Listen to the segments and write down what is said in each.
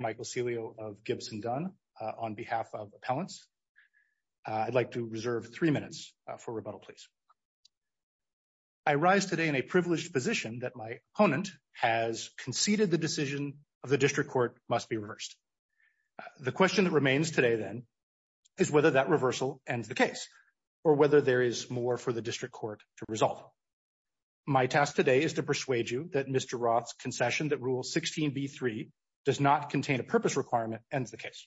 Michael Celio of Gibson Dunn, on behalf of appellants. I'd like to reserve three minutes for rebuttal, please. I rise today in a privileged position that my opponent has conceded the decision of the district court must be reversed. The question that remains today then is whether that reversal ends the case or whether there is more for the district court to resolve. My task today is to persuade you that Mr. Roth's concession that Rule 16b3 does not contain a purpose requirement ends the case.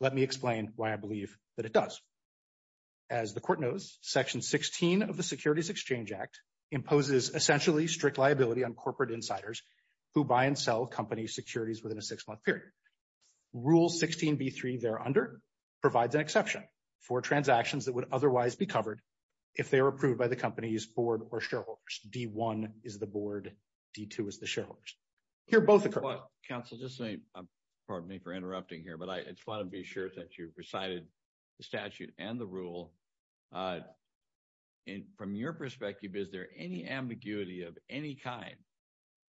Let me explain why I believe that it does. As the court knows, Section 16 of the Securities Exchange Act imposes essentially strict liability on corporate insiders who buy and sell company securities within a six-month period. Rule 16b3 thereunder provides exception for transactions that would otherwise be covered if they were approved by the company's board or shareholders. D1 is the board, D2 is the shareholders. Here both occur. Counsel, just a second. Pardon me for interrupting here, but I just want to be sure that you've recited the statute and the rule. From your perspective, is there any ambiguity of any kind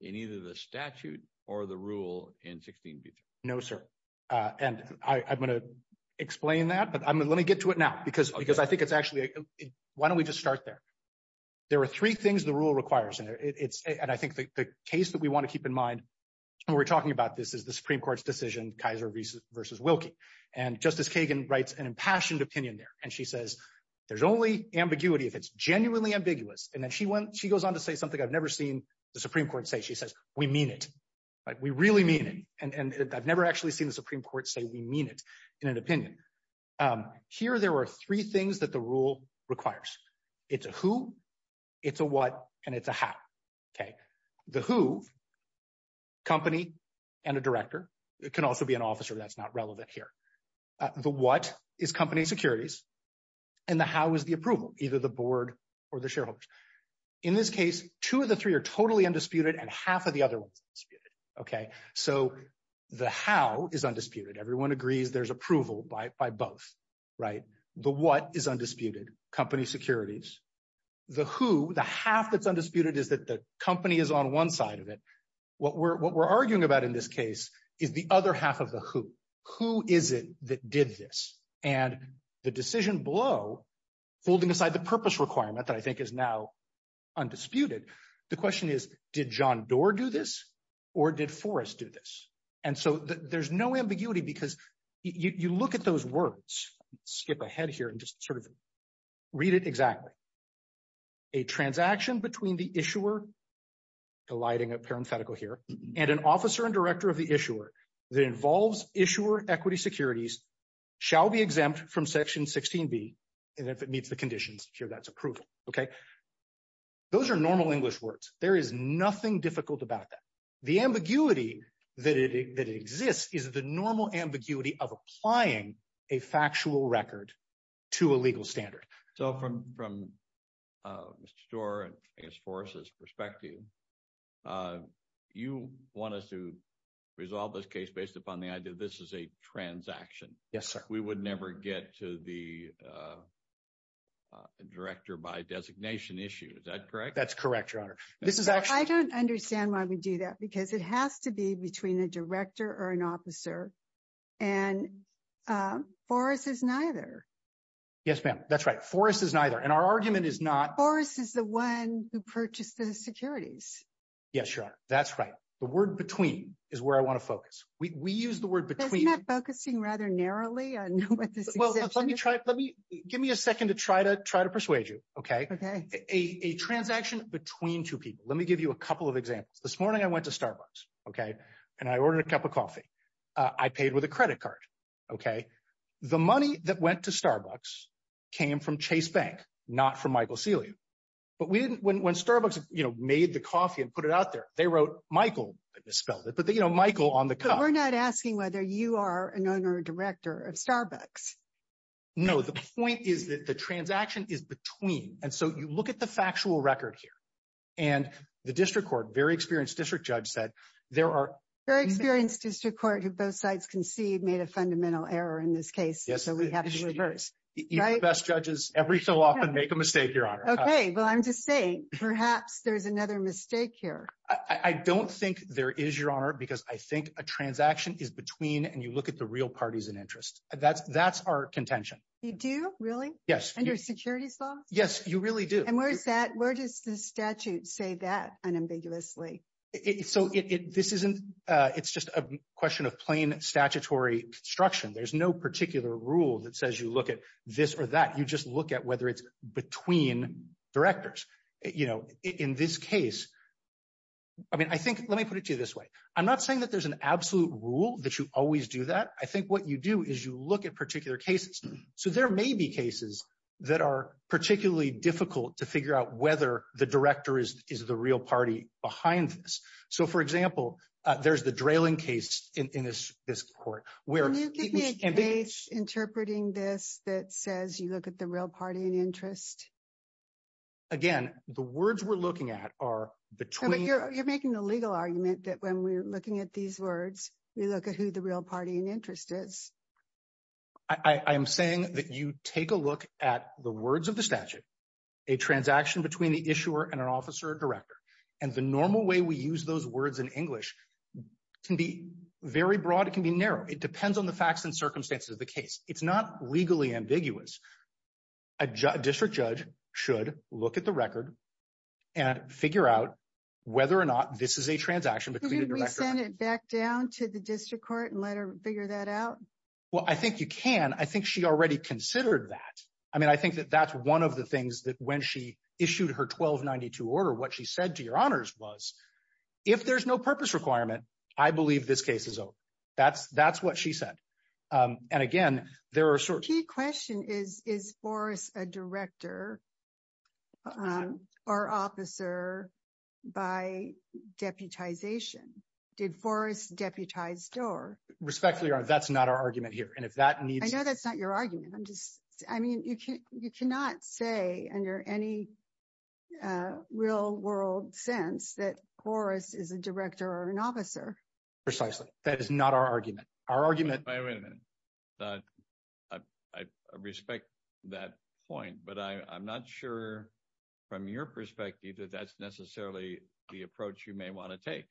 in either the statute or the rule in 16b3? No, sir. And I'm going to explain that, but let me get to it now because I think it's actually, why don't we just start there? There are three things the rule requires, and I think the case that we want to keep in mind when we're talking about this is the Supreme Court's decision, Kaiser v. Wilkie. And Justice Kagan writes an impassioned opinion there, and she says, there's only ambiguity if it's genuinely ambiguous. And then she goes on to say something I've never seen the Supreme Court say. She says, we mean it. We really mean it. And I've never actually seen the Supreme Court say we mean it in an opinion. Here there are three things that the rule requires. It's a who, it's a what, and it's a how. The who, company and a director. It can also be an officer, that's not relevant here. The what is company securities, and the how is the approval, either the board or the shareholders. In this case, two of the three are totally undisputed, and half of the other ones are undisputed. Okay, so the how is undisputed. Everyone agrees there's approval by both, right? The what is undisputed, company securities. The who, the half that's undisputed is that the company is on one side of it. What we're arguing about in this case is the other half of the who. Who is it that did this? And the decision below, holding aside the purpose requirement that I think is now undisputed, the question is, did John Doar do this, or did Forrest do this? And so there's no ambiguity because you look at those words, skip ahead here and just sort of read it exactly. A transaction between the issuer, delighting a parenthetical here, and an officer and director of the issuer that involves issuer equity securities shall be exempt from section 16b, and if it meets the conditions, sure, that's approval, okay? Those are normal English words. There is nothing difficult about that. The ambiguity that exists is the normal ambiguity of applying a factual record to a legal standard. So from Mr. Doar and Ms. Forrest's perspective, you want us to resolve this case based upon the idea this is a transaction. Yes, sir. We would never get to the director by designation issue, is that correct? That's correct, your honor. I don't understand why we do that because it has to be between a director or an officer, and Forrest is neither. Yes, ma'am, that's right. Forrest is neither, and our argument is not... Forrest is the one who purchased those securities. Yes, your honor, that's right. The word between is where I want to focus. We use the word between... Isn't that focusing rather narrowly on what this is? Well, let me try... Give me a second to try to persuade you, okay? A transaction between two people. Let me give you a couple of examples. This morning, I went to Starbucks, okay, and I ordered a cup of coffee. I paid with a credit card, okay? The money that went to Starbucks came from Chase Bank, not from Michael Celia. But when Starbucks made the coffee and put it out there, they wrote Michael, I just spelled it, but Michael on the cup. We're not asking whether you are an owner or director of Starbucks. No, the point is that the transaction is between, and so you look at the factual record here, and the district court, very experienced district judge said there are... Very experienced district court who both sides concede made a fundamental error in this case, so we have to reverse. Even the best judges every so often make a mistake, Your Honor. Okay, well, I'm just saying perhaps there's another mistake here. I don't think there is, Your Honor, because I think a transaction is between, and you look at the real parties in interest. That's our contention. You do, really? Yes. Under security law? Yes, you really do. And where does the statute say that unambiguously? So this isn't... It's just a question of plain statutory construction. There's no particular rule that says you look at this or that. You just look at whether it's between directors. In this case, I mean, I think... Let me put it to you this way. I'm not saying that there's an absolute rule that you always do that. I think what you do is you look at particular cases. So there may be cases that are particularly difficult to figure out whether the director is the real party behind this. So for example, there's the Drayling case in this court where... Can you give me a case interpreting this that says you look at the real party in interest? Again, the words we're looking at are between... You're making the legal argument that when we're looking at these words, we look at who the real party in interest is. I'm saying that you take a look at the words of the statute, a transaction between the issuer and an officer or director, and the normal way we use those words in English can be very broad. It can be narrow. It depends on the facts and circumstances of the case. It's not legally ambiguous. A district judge should look at the record and figure out whether or not this is a transaction between the director... Can we send it back down to the district court and let her figure that out? Well, I think you can. I think she already considered that. I mean, I think that that's one of the things that when she issued her 1292 order, what she said to your honors was, if there's no purpose requirement, I believe this case is over. That's what she said. And again, there are... The key question is, is Forrest a director or officer by deputization? Did Forrest deputize Dorr? Respectfully, Your Honor, that's not our argument here. And if that needs... No, that's not your argument. I mean, you cannot say under any real world sense that Forrest is a director or an officer. Precisely. That is not our argument. Our argument... Wait a minute. I respect that point, but I'm not sure from your perspective that that's necessarily the approach you may want to take.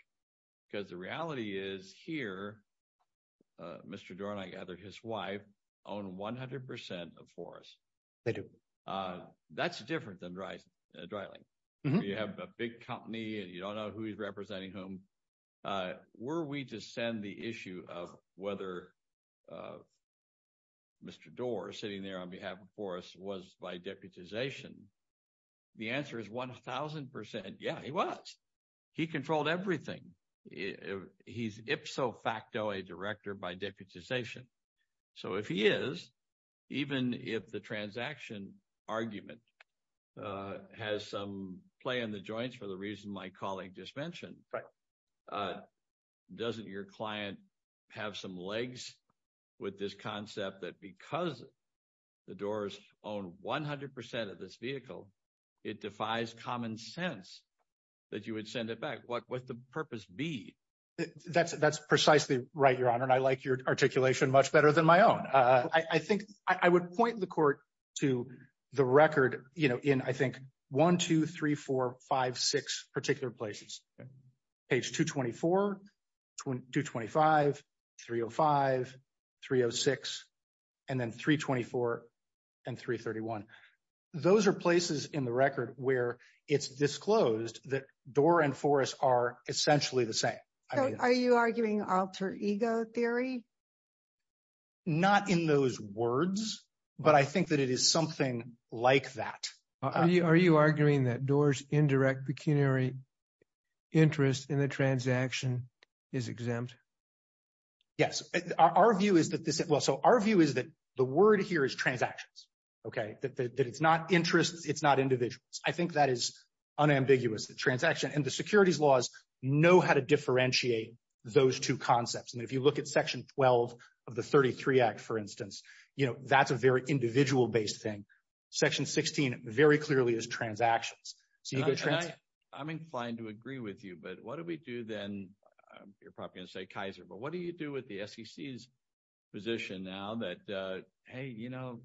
Because the reality is here, Mr. Dorr and I own 100% of Forrest. That's different than Dry Link. You have a big company and you don't know who he's representing whom. Were we to send the issue of whether Mr. Dorr sitting there on behalf of Forrest was by deputization, the answer is 1000%. Yeah, he was. He controlled everything. He's ipso facto a director by deputization. So if he is, even if the transaction argument has some play in the joints for the reason my colleague just mentioned, doesn't your client have some legs with this concept that because the Dorrs own 100% of B? That's precisely right, Your Honor. And I like your articulation much better than my own. I would point the court to the record in, I think, 1, 2, 3, 4, 5, 6 particular places. Page 224, 225, 305, 306, and then 324 and 331. Those are places in the record where it's the same. So are you arguing alter ego theory? Not in those words, but I think that it is something like that. Are you arguing that Dorr's indirect pecuniary interest in the transaction is exempt? Yes. Our view is that this, well, so our view is that the word here is transactions, okay? That it's not interest, it's not individuals. I think that is unambiguous, the transaction. And the securities laws know how to differentiate those two concepts. And if you look at Section 12 of the 33 Act, for instance, that's a very individual-based thing. Section 16 very clearly is transactions. I'm inclined to agree with you, but what do we do then? You're probably going to say Kaiser, but what do you do with the SEC's position now that, hey, you know,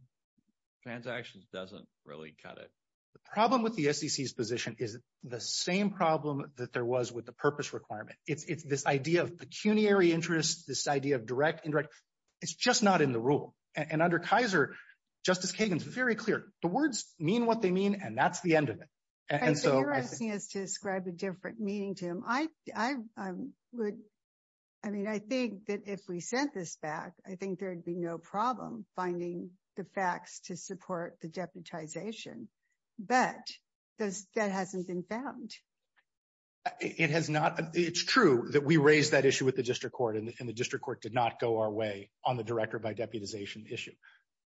transactions doesn't really cut it? The problem with the SEC's position is the same problem that there was with the purpose requirement. If this idea of pecuniary interest, this idea of direct, indirect, it's just not in the rule. And under Kaiser, Justice Kagan's very clear. The words mean what they mean, and that's the end of it. And so- I think you're asking us to describe a different meaning, Jim. I would, I mean, I think that if we sent this back, I think there'd be no problem finding the facts to support the deputization. But that hasn't been found. It has not. It's true that we raised that issue with the district court, and the district court did not go our way on the director by deputization issue.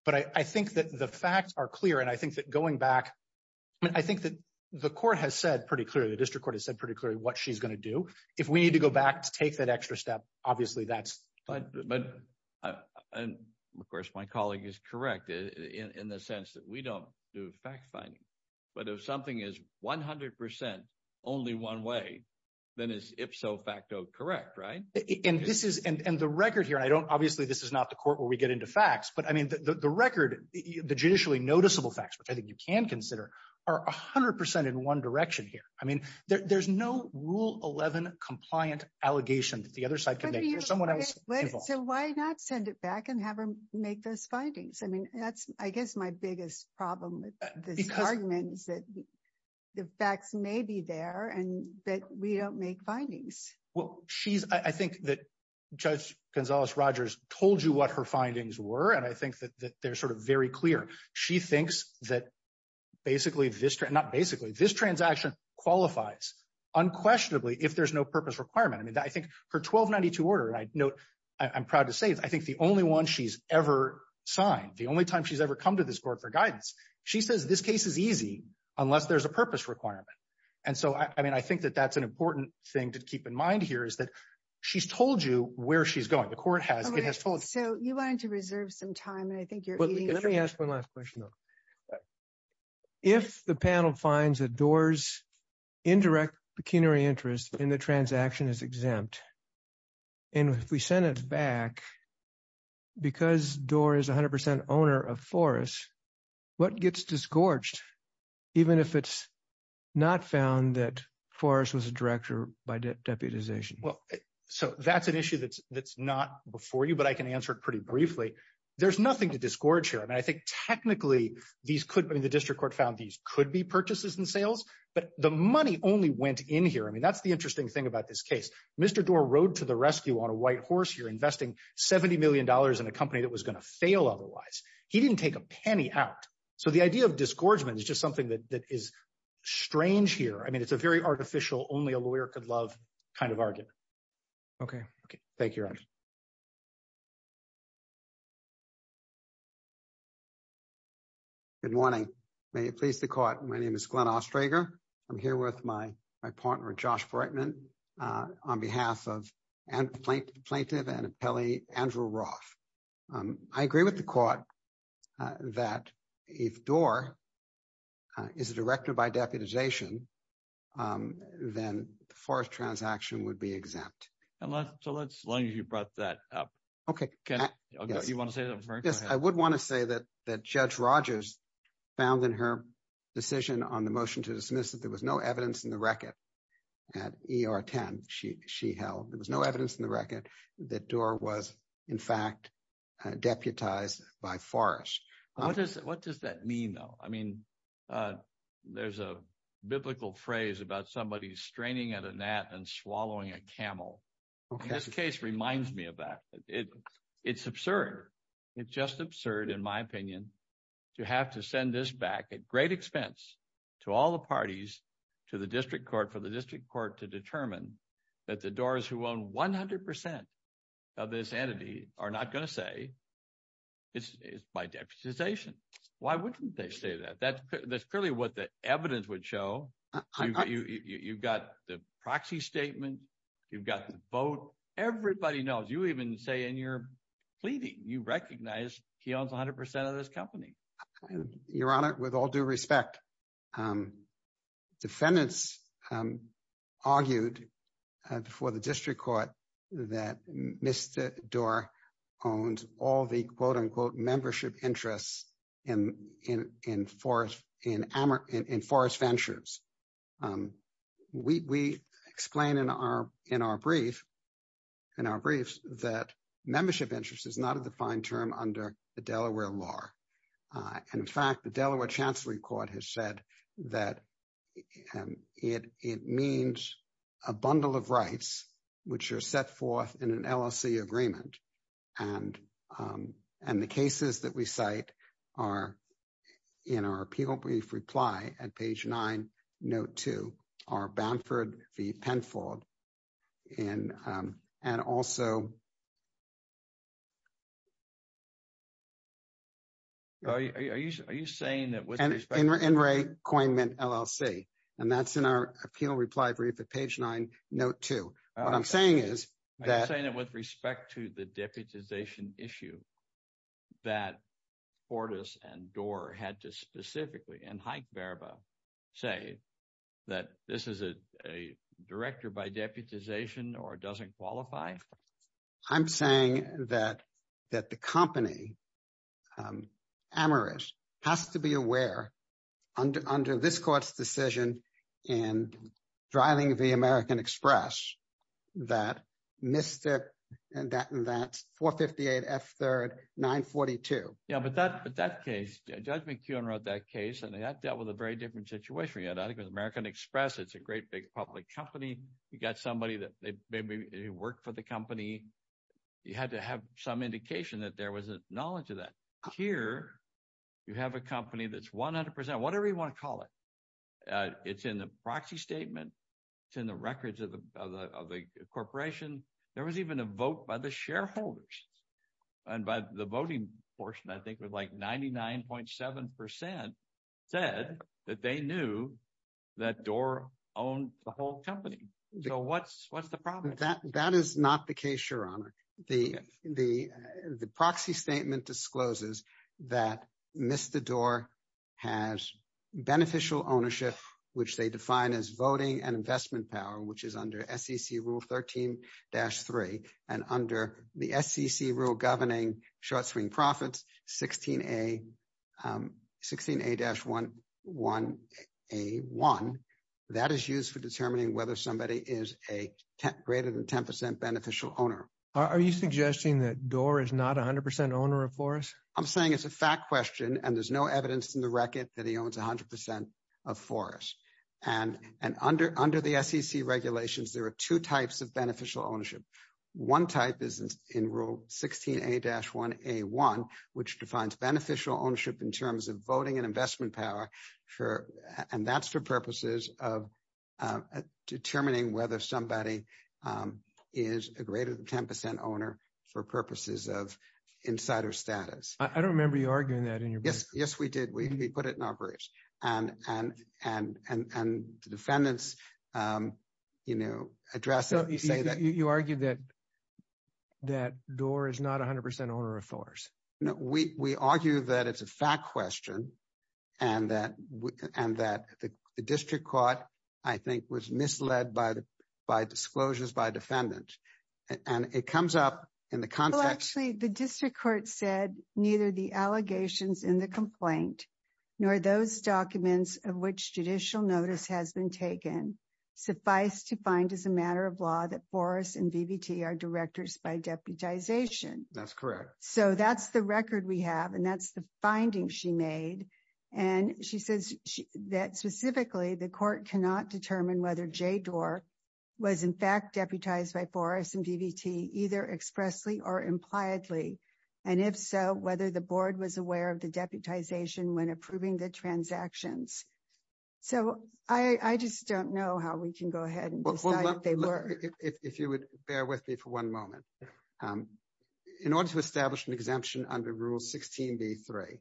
But I think that the facts are clear, and I think that going back, I think that the court has said pretty clearly, the district court has said pretty clearly what she's going to do. If we need to go back to take that extra step, obviously, that's fine. But, and of course, my colleague is correct in the sense that we don't do fact finding. But if something is 100% only one way, then it's ipso facto correct, right? And this is, and the record here, I don't, obviously, this is not the court where we get into facts, but I mean, the record, the judicially noticeable facts, which I think you can consider, are 100% in one direction here. I mean, there's no rule 11 compliant allegation that the other side can make. There's someone else involved. So why not send it back and have her make those findings? I mean, that's, I guess, my biggest problem with the department is that the facts may be there, and that we don't make findings. Well, she's, I think that Judge Gonzalez-Rogers told you what her findings were, and I think that they're sort of very clear. She thinks that basically this, not basically, this transaction qualifies unquestionably if there's no purpose requirement. I mean, I think her 1292 order, and I note, I'm proud to say, I think the only one she's ever signed, the only time she's ever come to this court for guidance, she says this case is easy unless there's a purpose requirement. And so, I mean, I think that that's an important thing to keep in mind here is that she's told you where she's going. The court has, it has told. So you wanted to reserve some time, let me ask one last question though. If the panel finds that Doar's indirect pecuniary interest in the transaction is exempt, and if we send it back because Doar is 100% owner of Forrest, what gets disgorged, even if it's not found that Forrest was a director by deputization? Well, so that's an issue that's not before you, but I can answer it pretty briefly. There's nothing to disgorge here. I mean, I think technically these could, I mean, the district court found these could be purchases and sales, but the money only went in here. I mean, that's the interesting thing about this case. Mr. Doar rode to the rescue on a white horse here investing $70 million in a company that was going to fail otherwise. He didn't take a penny out. So the idea of disgorgement is just something that is strange here. I mean, it's a very interesting case. Good morning. May it please the court. My name is Glenn Ostrager. I'm here with my partner, Josh Brightman, on behalf of plaintiff and appellee Andrew Roth. I agree with the court that if Doar is a director by deputization, then Forrest transaction would be exempt. So let's, as long as you brought that up. Okay. Okay. You want to say that? I would want to say that, that judge Rogers found in her decision on the motion to dismiss that there was no evidence in the record at ER 10. She, she held, there was no evidence in the record that Doar was in fact deputized by Forrest. What does that mean though? I mean, there's a biblical phrase about somebody straining at a gnat and swallowing a camel. This case reminds me of that. It's absurd. It's just absurd, in my opinion, to have to send this back at great expense to all the parties, to the district court, for the district court to determine that the doors who own 100% of this entity are not going to say it's by deputization. Why wouldn't they say that? That's clearly what the evidence would show. You've got the proxy statement, you've got the vote, everybody knows. You even say in your pleading, you recognize he owns 100% of this company. Your honor, with all due respect, defendants argued for the district court that Mr. Doar owns all the quote unquote membership interests in, in, in Forrest, in, in Forrest Ventures. We, we explain in our, in our brief, in our briefs that membership interest is not a defined term under the Delaware law. And in fact, the Delaware chancellery court has said that it, it means a bundle of rights, which are set forth in an LLC agreement. And, and the cases that we cite are in our appeal brief reply at page nine, note two, are Bamford v. Penfold in, and also. Are you, are you, are you saying that with respect to In recoinment LLC, and that's in our appeal reply brief at page nine, note two, what I'm saying is. I'm saying that with respect to the deputization issue that Fortas and Doar had to specifically, and Hikeverba say that this is a, a director by deputization or doesn't qualify. I'm saying that, that the company Amaris has to be aware under, under this court's decision and driving the American Express that missed it and that, that 458 F third 942. Yeah. But that, but that case, Judge McKeon wrote that case and that dealt with a very different situation. You know, that was American Express. It's a great big public company. You got somebody that they maybe they work for the company. You had to have some whatever you want to call it. It's in the proxy statement. It's in the records of the, of the, of the corporation. There was even a vote by the shareholders and by the voting portion, I think it was like 99.7% said that they knew that Doar owned the whole company. So what's, what's the problem? That, that is not the case, Your Honor. The, the, the proxy statement discloses that Mr. Doar has beneficial ownership, which they define as voting and investment power, which is under SEC rule 13-3 and under the SEC rule governing short-swing profits 16A, 16A-1, 1A1. That is used for determining whether somebody is a greater than 10% beneficial owner. Are you suggesting that Doar is not 100% owner of Forrest? I'm saying it's a fact question and there's no evidence in the record that he owns 100% of Forrest. And, and under, under the SEC regulations, there are two types of beneficial ownership. One type is in rule 16A-1A1, which defines beneficial ownership in terms of voting and investment power for, and that's for purposes of determining whether somebody is a greater than 10% owner for purposes of insider status. I don't remember you arguing that in your brief. Yes, we did. We, we put it in our briefs and, and, and, and, and defendants, you know, address that. You argued that, that Doar is not 100% owner of Forrest. We, we argue that it's a fact question and that, and that the district court, I think, was misled by the, by disclosures by defendants. And it comes up in the context. Well, actually the district court said neither the allegations in the complaint, nor those documents of which judicial notice has been taken, suffice to find as a matter of law that Forrest and BBT are directors by deputization. That's correct. So that's the record we have, and that's the finding she made. And she says that specifically the court cannot determine whether Jay Doar was in fact deputized by Forrest and BBT either expressly or impliedly. And if so, whether the board was aware of the deputization when approving the transactions. So I, I just don't know how we can go ahead and decide if they were. If you would bear with me for one moment. In order to establish an exemption under Rule 16b-3,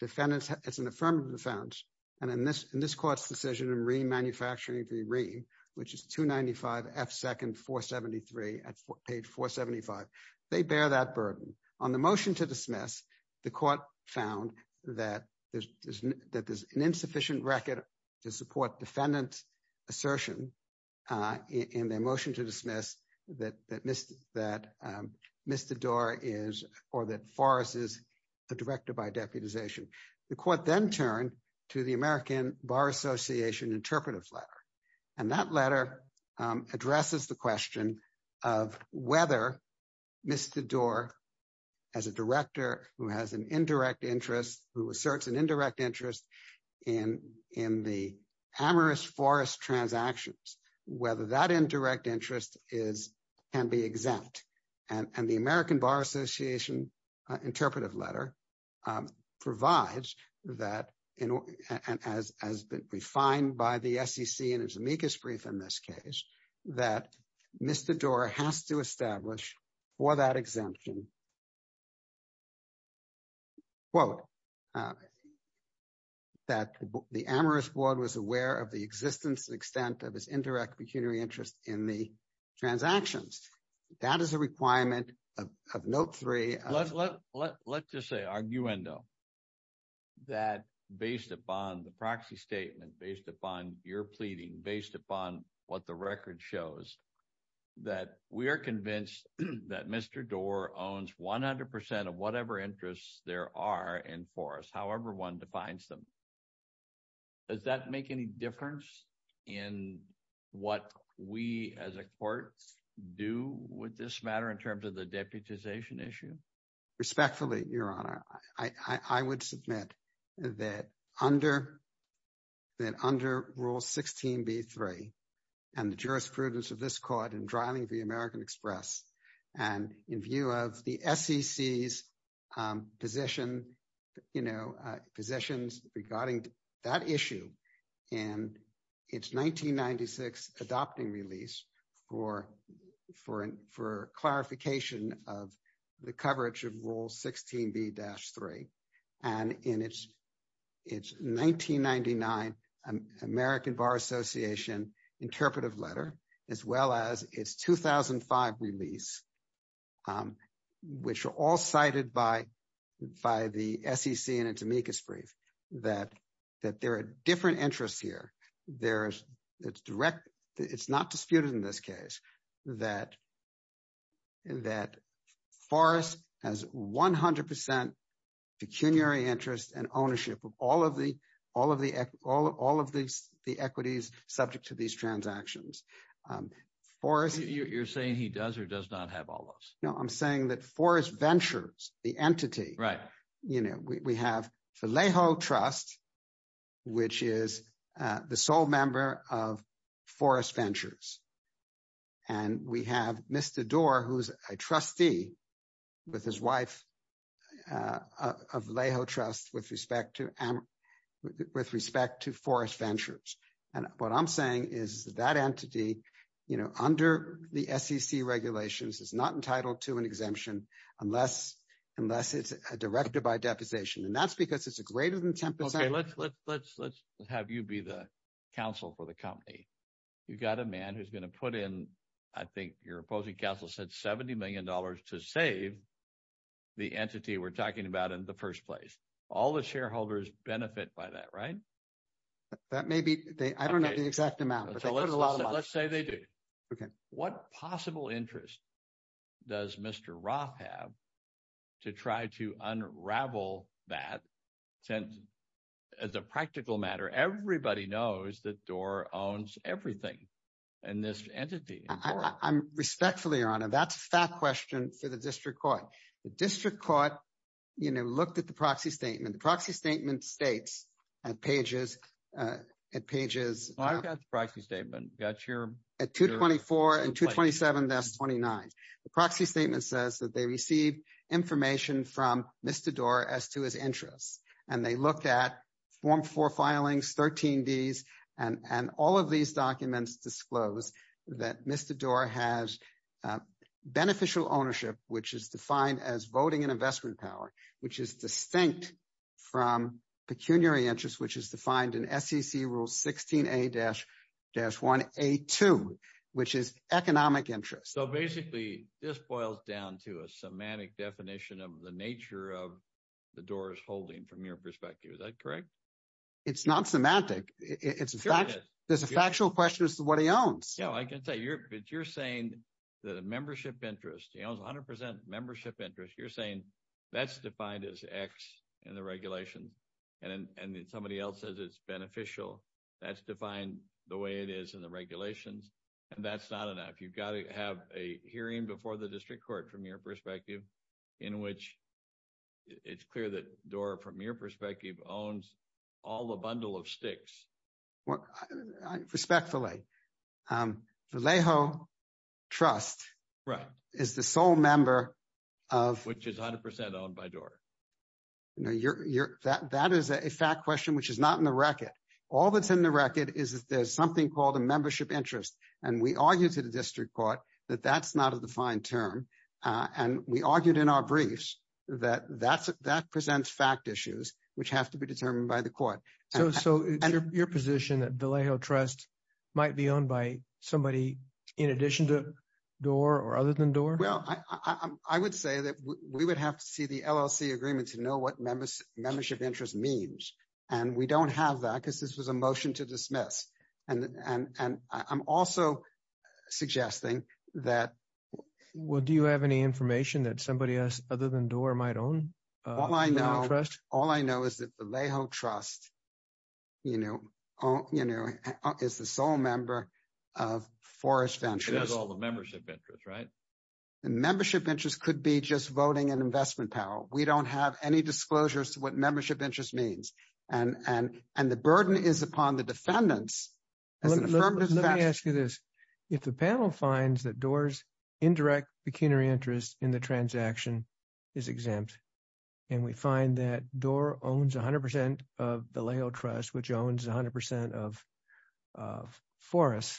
defendants, it's an affirmative defense, and in this, in this court's decision in re-manufacturing the re, which is 295 F second 473 at page 475, they bear that burden. On the motion to dismiss, the court found that that there's an insufficient record to support defendant's assertion in their motion to dismiss that Mr. Doar is, or that Forrest is a director by deputization. The court then turned to the American Bar Association interpretive letter, and that letter addresses the question of whether Mr. Doar as a director who has an indirect interest in, in the amorous Forrest transactions, whether that indirect interest is, can be exempt. And the American Bar Association interpretive letter provides that, and as, as defined by the SEC in its amicus brief in this case, that Mr. Doar has to establish for that that the amorous board was aware of the existence and extent of his indirect pecuniary interest in the transactions. That is a requirement of, of note three. Let's just say, arguendo, that based upon the proxy statement, based upon your pleading, based upon what the record shows, that we are convinced that Mr. Doar owns 100 percent of whatever interests there are in Forrest, however one defines them. Does that make any difference in what we, as a court, do with this matter in terms of the deputization issue? Respectfully, Your Honor, I, I would submit that under, that under Rule 16b-3, and the jurisprudence of this American Express, and in view of the SEC's position, you know, positions regarding that issue in its 1996 adopting release, or for, for clarification of the coverage of Rule 16b-3, and in its, its 1999 American Bar Association interpretive letter, as well as its 2005 release, which are all cited by, by the SEC in its amicus brief, that, that there are different interests here. There's, it's direct, it's not disputed in this case that, that Forrest has 100 percent pecuniary interest and ownership of all of the, all of the, all, all of these, the equities subject to these transactions. Forrest... You're saying he does, or does not have all of those? No, I'm saying that Forrest Ventures, the entity... Right. You know, we, we have the Lahoe Trust, which is the sole member of Forrest Ventures, and we have Mr. Doar, who's a trustee with his wife of Lahoe Trust with respect to, and with respect to Forrest Ventures. And what I'm saying is that entity, you know, under the SEC regulations, is not entitled to an exemption unless, unless it's directed by deposition. And that's because it's a greater than 10 percent... Okay, let's, let's, let's, let's have you be the counsel for the company. You've got a man who's going to put in, I think your opposing counsel said $70 million to save the entity we're talking about in the first place. All the shareholders benefit by that, right? That may be, they, I don't know the exact amount, but they put a lot of... Let's say they do. Okay. What possible interest does Mr. Ra have to try to unravel that, since as a practical matter, everybody knows that entity... I'm respectfully, Your Honor, that's that question to the district court. The district court, you know, looked at the proxy statement. The proxy statement states at pages, at pages... I've got the proxy statement. That's your... At 224 and 227-29. The proxy statement says that they received information from Mr. Doar as to his interests, and they looked at Form 4 filings, 13Ds, and all of these documents disclose that Mr. Doar has beneficial ownership, which is defined as voting and investment power, which is distinct from pecuniary interest, which is defined in SEC Rule 16A-1A2, which is economic interest. So basically this boils down to a semantic definition of the nature of the Doors holding from your perspective. Is that correct? It's not semantic. There's a factual question as to what he owns. Yeah, I can tell you. You're saying that a membership interest, he owns 100% membership interest. You're saying that's defined as X in the regulation, and somebody else says it's beneficial. That's defined the way it is in the regulations, and that's not enough. You've got to have a hearing before the district court from your perspective in which it's clear that Doar, from your perspective, owns all the bundle of stakes. Respectfully. The Leho Trust is the sole member of... Which is 100% owned by Doar. That is a fact question, which is not in the record. All that's in the record is that there's something called a membership interest, and we argued to the district court that that's not a term. We argued in our briefs that that presents fact issues, which have to be determined by the court. So your position that the Leho Trust might be owned by somebody in addition to Doar or other than Doar? Well, I would say that we would have to see the LLC agreement to know what membership interest means, and we don't have that because this was a motion to dismiss. I'm also suggesting that... Well, do you have any information that somebody else other than Doar might own? All I know is that the Leho Trust is the sole member of Forest Ventures. It has all the membership interest, right? The membership interest could be just voting and investment power. We don't have any disclosures to what membership interest means, and the burden is upon the defendants. Let me ask you this. If the panel finds that Doar's indirect pecuniary interest in the transaction is exempt, and we find that Doar owns 100% of the Leho Trust, which owns 100% of Forest,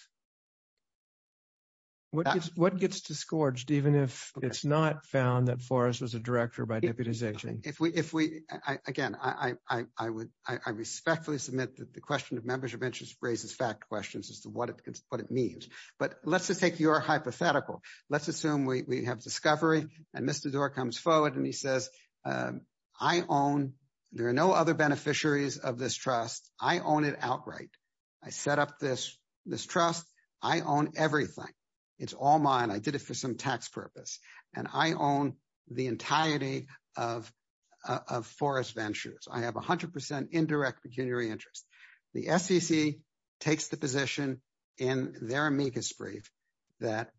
what gets disgorged, even if it's not found that Forest was a director by deputization? If we... Again, I respectfully submit that the question of membership interest raises fact questions as to what it means, but let's take your hypothetical. Let's assume we have discovery, and Mr. Doar comes forward and he says, I own... There are no other beneficiaries of this trust. I own it outright. I set up this trust. I own everything. It's all mine. I did it for some tax purpose, and I own the entirety of Forest Ventures. I have 100% indirect pecuniary interest. The SEC takes the position in their amicus brief that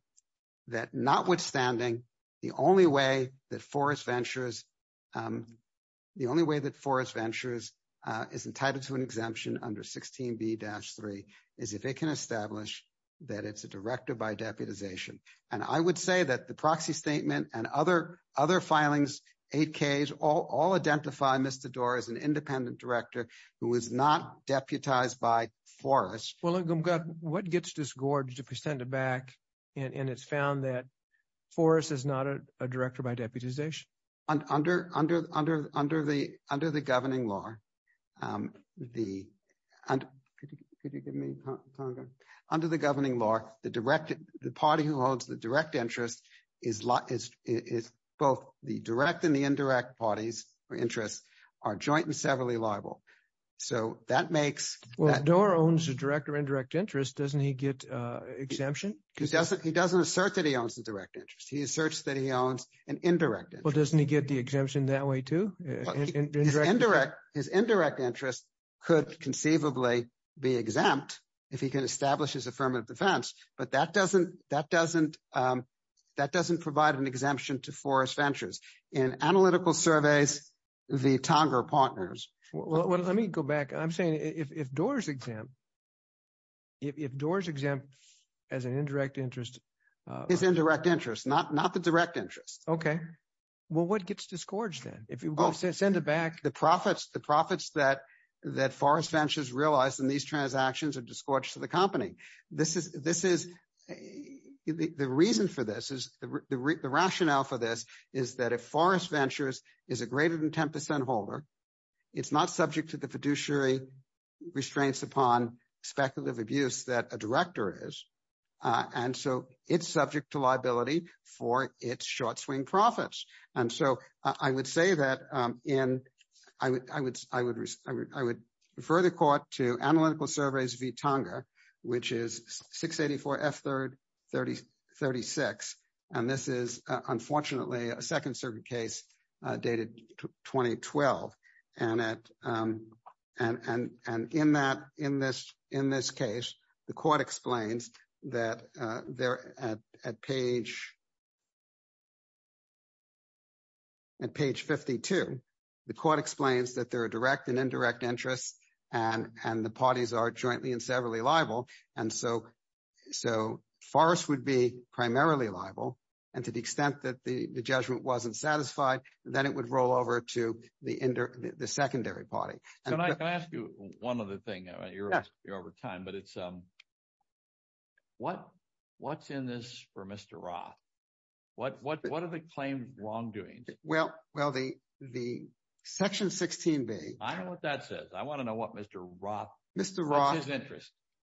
notwithstanding, the only way that Forest Ventures is entitled to an exemption under 16B-3 is if they can establish that it's a director by deputization, and I would say that the proxy statement and other filings, 8Ks, all identify Mr. Doar as an independent director who is not deputized by Forest. Well, what gets disgorged to present it back, and it's found that Forest is not a director by deputization? Under the governing law, the party who owns the direct interest is... Both the direct and the indirect parties or interests are joint and severally liable, so that makes... Well, if Doar owns a direct or indirect interest, doesn't he get exemption? He doesn't assert that he owns a direct interest. He asserts that he owns an indirect interest. Well, doesn't he get the exemption that way too? His indirect interest could conceivably be exempt if he can establish his affirmative defense, but that doesn't provide an exemption to Forest Ventures. In analytical surveys, the Tonger partners... Well, let me go back. I'm saying if Doar's exempt as an indirect interest... His indirect interest, not the direct interest. Okay. Well, what gets disgorged then? If you want to send it back... The profits that Forest Ventures realized in these transactions are disgorged to the company. The reason for this is... The rationale for this is that if Forest Ventures is a greater than 10% holder, it's not subject to the fiduciary restraints upon speculative abuse that a director is, and so it's subject to liability for its short swing profits. And so I would say that in... I would refer the court to analytical surveys v. Tonger, which is 684 F3rd 36. And this is, unfortunately, a second circuit case dated 2012. And in this case, the court explains that at page 52, the court explains that there are direct and indirect interests and the parties are jointly and severally liable. And so Forest would be primarily liable. And to the extent that the judgment wasn't satisfied, then it would roll over to the secondary party. Can I ask you one other thing? You're over time, but it's... What's in this for Mr. Roth? What are the claims wrongdoing? Well, the Section 16b... I don't know what that says. I want to know what Mr. Roth... Mr. Roth,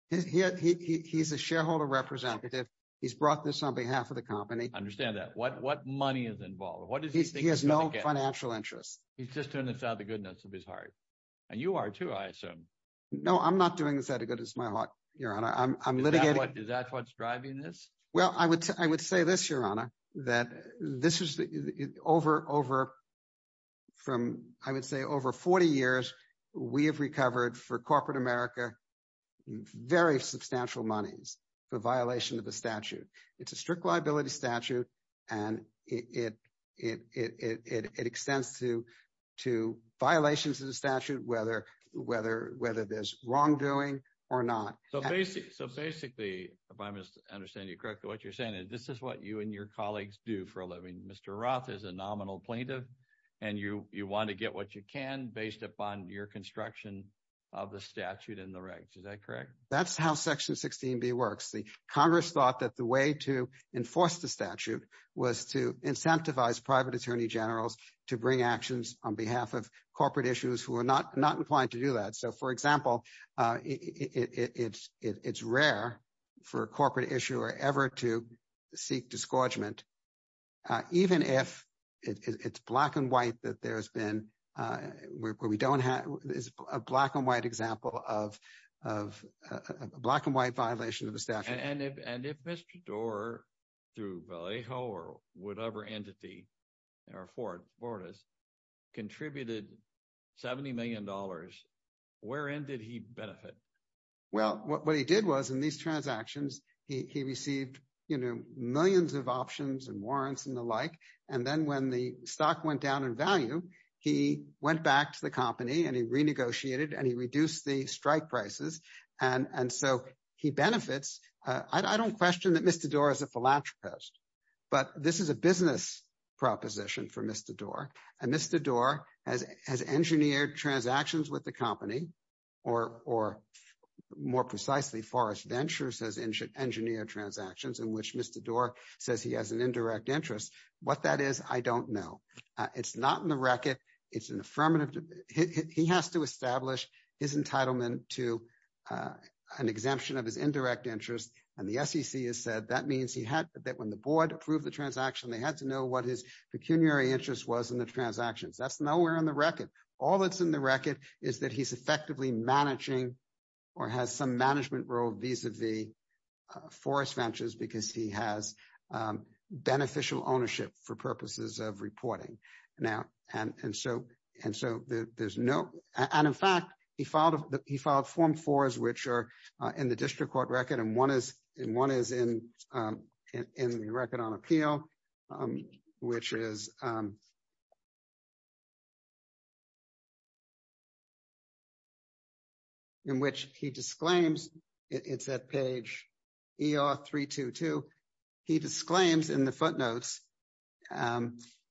he's a shareholder representative. He's brought this on behalf of the company. I understand that. What money is involved? He has no financial interest. He's just doing this out of the goodness of his heart. And you are too, I assume. No, I'm not doing this out of goodness of my heart, Your Honor. I'm litigating... Is that what's driving this? Well, I would say this, Your Honor, that this is over... I would say over 40 years, we have recovered for corporate America very substantial monies for violation of the statute. It's a strict liability statute and it extends to violations of the statute, whether there's wrongdoing or not. So basically, if I understand you correctly, what you're saying is this is what you and your colleagues do for a living. Mr. Roth is a nominal plaintiff and you want to get what you can based upon your construction of the statute and the rights. Is that correct? That's how Section 16b works. The Congress thought that the way to enforce the statute was to incentivize private attorney generals to bring actions on behalf of corporate issues who are not inclined to do that. So for example, it's rare for a corporate issuer ever to seek disgorgement, even if it's black and white that there's been... where we don't have... it's a black and white example of a black and white violation of the statute. And if Mr. Doar, through Vallejo or whatever entity, or Fortas, contributed $70 million, where in did he benefit? Well, what he did was in these transactions, he received millions of options and warrants and the like. And then when the stock went down in value, he went back to the company and he renegotiated and he reduced the strike prices. And so he benefits. I don't question that Mr. Doar is a philanthropist, but this is a business proposition for Mr. Doar. And Mr. Doar has engineered transactions with the company, or more precisely, Forrest Ventures has engineered transactions in which Mr. Doar says he has an indirect interest. What that is, I don't know. It's not in the record. It's an affirmative... he has to establish his entitlement to an exemption of his indirect interest. And the SEC has said that means he had when the board approved the transaction, they had to know what his pecuniary interest was in the transaction. That's nowhere on the record. All that's in the record is that he's effectively managing or has some management role vis-a-vis Forrest Ventures because he has beneficial ownership for purposes of reporting. And in fact, he filed form fours, which are in the district court record and one is in the record on appeal, which is... in which he disclaims, it's at page ER-322, he disclaims in the footnotes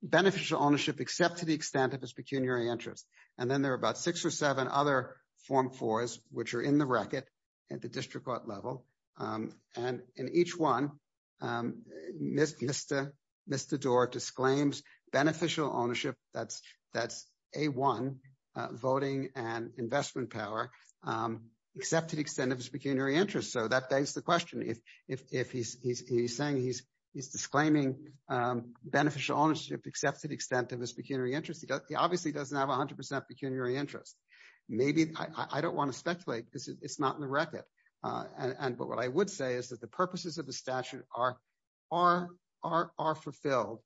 beneficial ownership except to the extent of his pecuniary interest. And then there are about six or seven other form fours, which are in the record at the district court level. And in each one, Mr. Doar disclaims beneficial ownership, that's A-1, voting and investment power, except to the extent of his pecuniary interest. So that begs the question. If he's saying he's disclaiming beneficial ownership except to the extent of his pecuniary interest, he obviously doesn't have a hundred percent pecuniary interest. Maybe I don't want to speculate because it's not in the record. But what I would say is that the purposes of the statute are fulfilled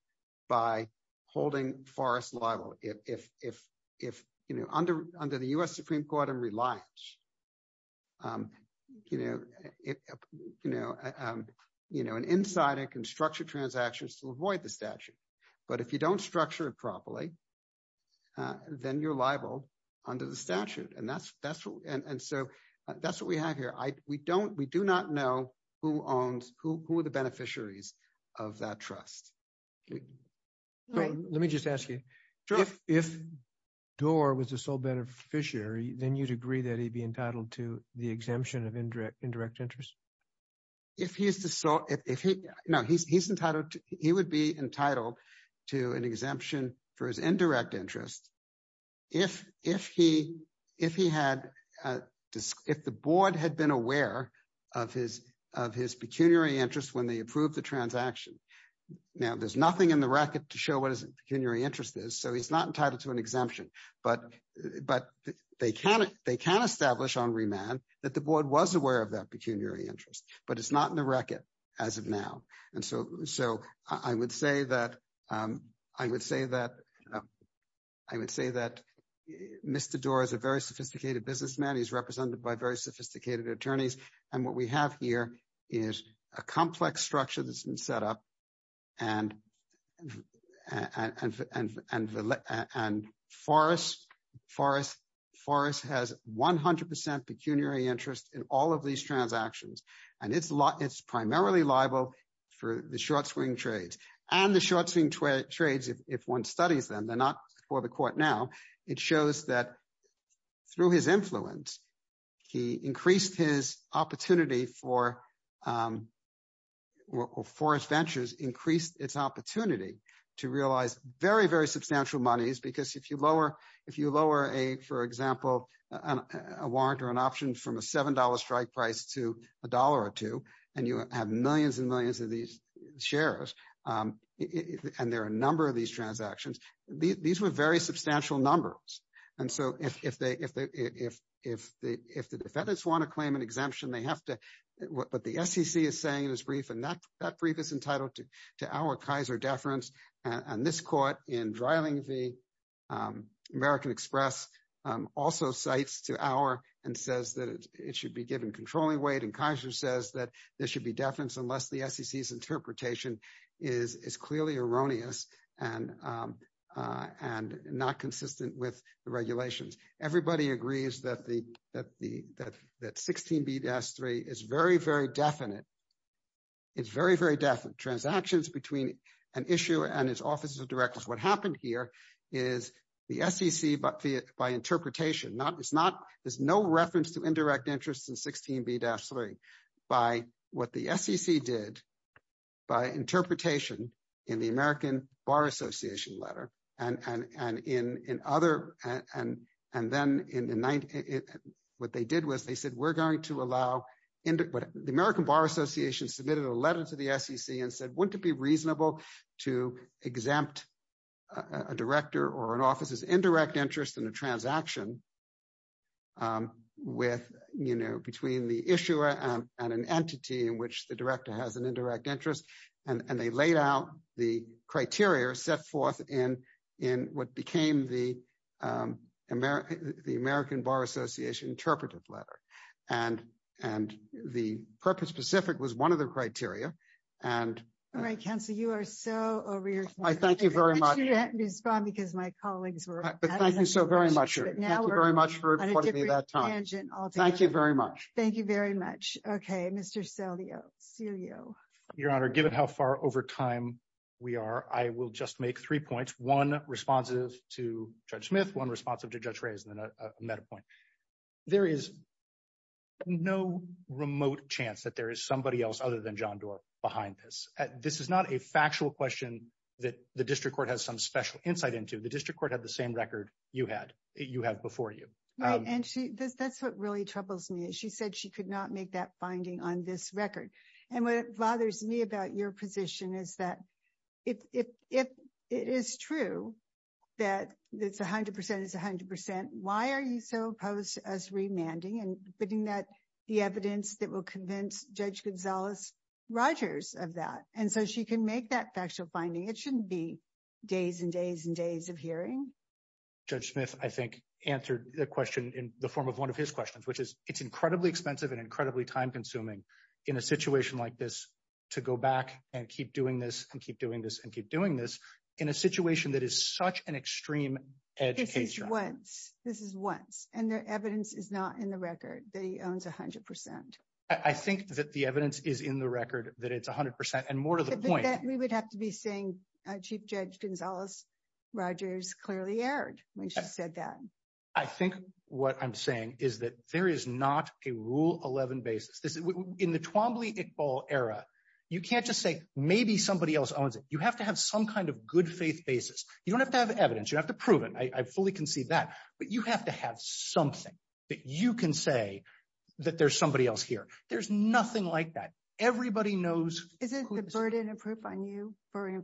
by holding Forrest liable. If under the US Supreme Court and reliance, an insider can structure transactions to avoid the statute, but if you don't structure it properly, then you're liable under the statute. And so that's what we have here. We do not know who owns, who are the beneficiaries of that trust. Let me just ask you, if Doar was the sole beneficiary, then you'd agree that he'd be entitled to the exemption of indirect interest? He would be entitled to an exemption for his indirect interest if the board had been aware of his pecuniary interest when they approved the transaction. Now, there's nothing in the record to show what his pecuniary interest is, so he's not entitled to an exemption, but they can establish on remand that the board was aware of that pecuniary interest, but it's not in the record as of now. And so I would say that Mr. Doar is a very sophisticated businessman. He's represented by very sophisticated attorneys. And what we have here is a complex structure that's been set up and Forrest has 100% pecuniary interest in all of these transactions. And it's primarily liable for the short swing trades. And the short swing trades, if one studies them, they're not before the court now, it shows that through his influence, he increased his opportunity for, or Forrest Ventures increased its opportunity to realize very, very substantial monies. Because if you lower a, for example, a warrant or an option from a $7 strike price to a dollar or two, and you have millions and millions of these shares, and there are a number of these transactions, these were very substantial numbers. And so if the defendants want to claim an exemption, they have to, what the SEC is saying in this brief, and that brief is entitled to our Kaiser deference. And this court in driving the American Express also cites to our and says that it should be given controlling weight. And Kaiser says that there should be deference unless the SEC's interpretation is clearly erroneous and not consistent with the regulations. Everybody agrees that 16B-3 is very, very definite. It's very, very definite transactions between an issue and its offices of directors. What happened here is the SEC by interpretation, there's no reference to indirect interest in 16B-3 by what the SEC did by interpretation in the American Bar Association letter. And then what they did was they said, the American Bar Association submitted a letter to the SEC and said, wouldn't it be reasonable to exempt a director or an office's indirect interest in a transaction between the issuer and an entity in which the director has an indirect interest? And they laid out the criteria set forth in what became the American Bar Association interpretive letter. And the purpose-specific was one of the criteria. And- All right, counsel, you are so over your- I thank you very much. I see you haven't been spotted because my colleagues were- But thank you so very much. Thank you very much for your time. Thank you very much. Thank you very much. Okay, Mr. Celio. Your Honor, given how far over time we are, I will just make three points. One responsive to Judge Smith, one responsive to Judge Reyes, and then a meta point. There is no remote chance that there is somebody else other than John Doar behind this. This is not a factual question that the district court has some special insight into. The district court had the same record you have before you. Right, and that's what really troubles me. She said she could not make that finding on this record. And what bothers me about your position is that if it is true that it's 100 percent, it's 100 percent, why are you so opposed to us remanding and putting that- the evidence that will convince Judge Gonzalez Rogers of that? And so she can make that factual finding. It shouldn't be days and days and days of hearing. Judge Smith, I think, answered the question in the form of one of his questions, which is, it's incredibly expensive and incredibly time-consuming in a situation like this to go back and keep doing this and keep doing this and keep doing this in a situation that is such an extreme education. This is once. This is once. And the evidence is not in the record that he owns 100 percent. I think that the evidence is in the record that it's 100 percent and more to the point. We would have to be saying Chief Judge Gonzalez Rogers clearly erred when she said that. I think what I'm saying is that there is not a rule 11 basis. In the Twombly-Iqbal era, you can't just say maybe somebody else owns it. You have to have some kind of good faith basis. You don't have to have evidence. You have to prove it. I fully concede that. But you have to have something that you can say that there's somebody else here. There's nothing like that. Everybody knows- Isn't the burden of proof on you for in the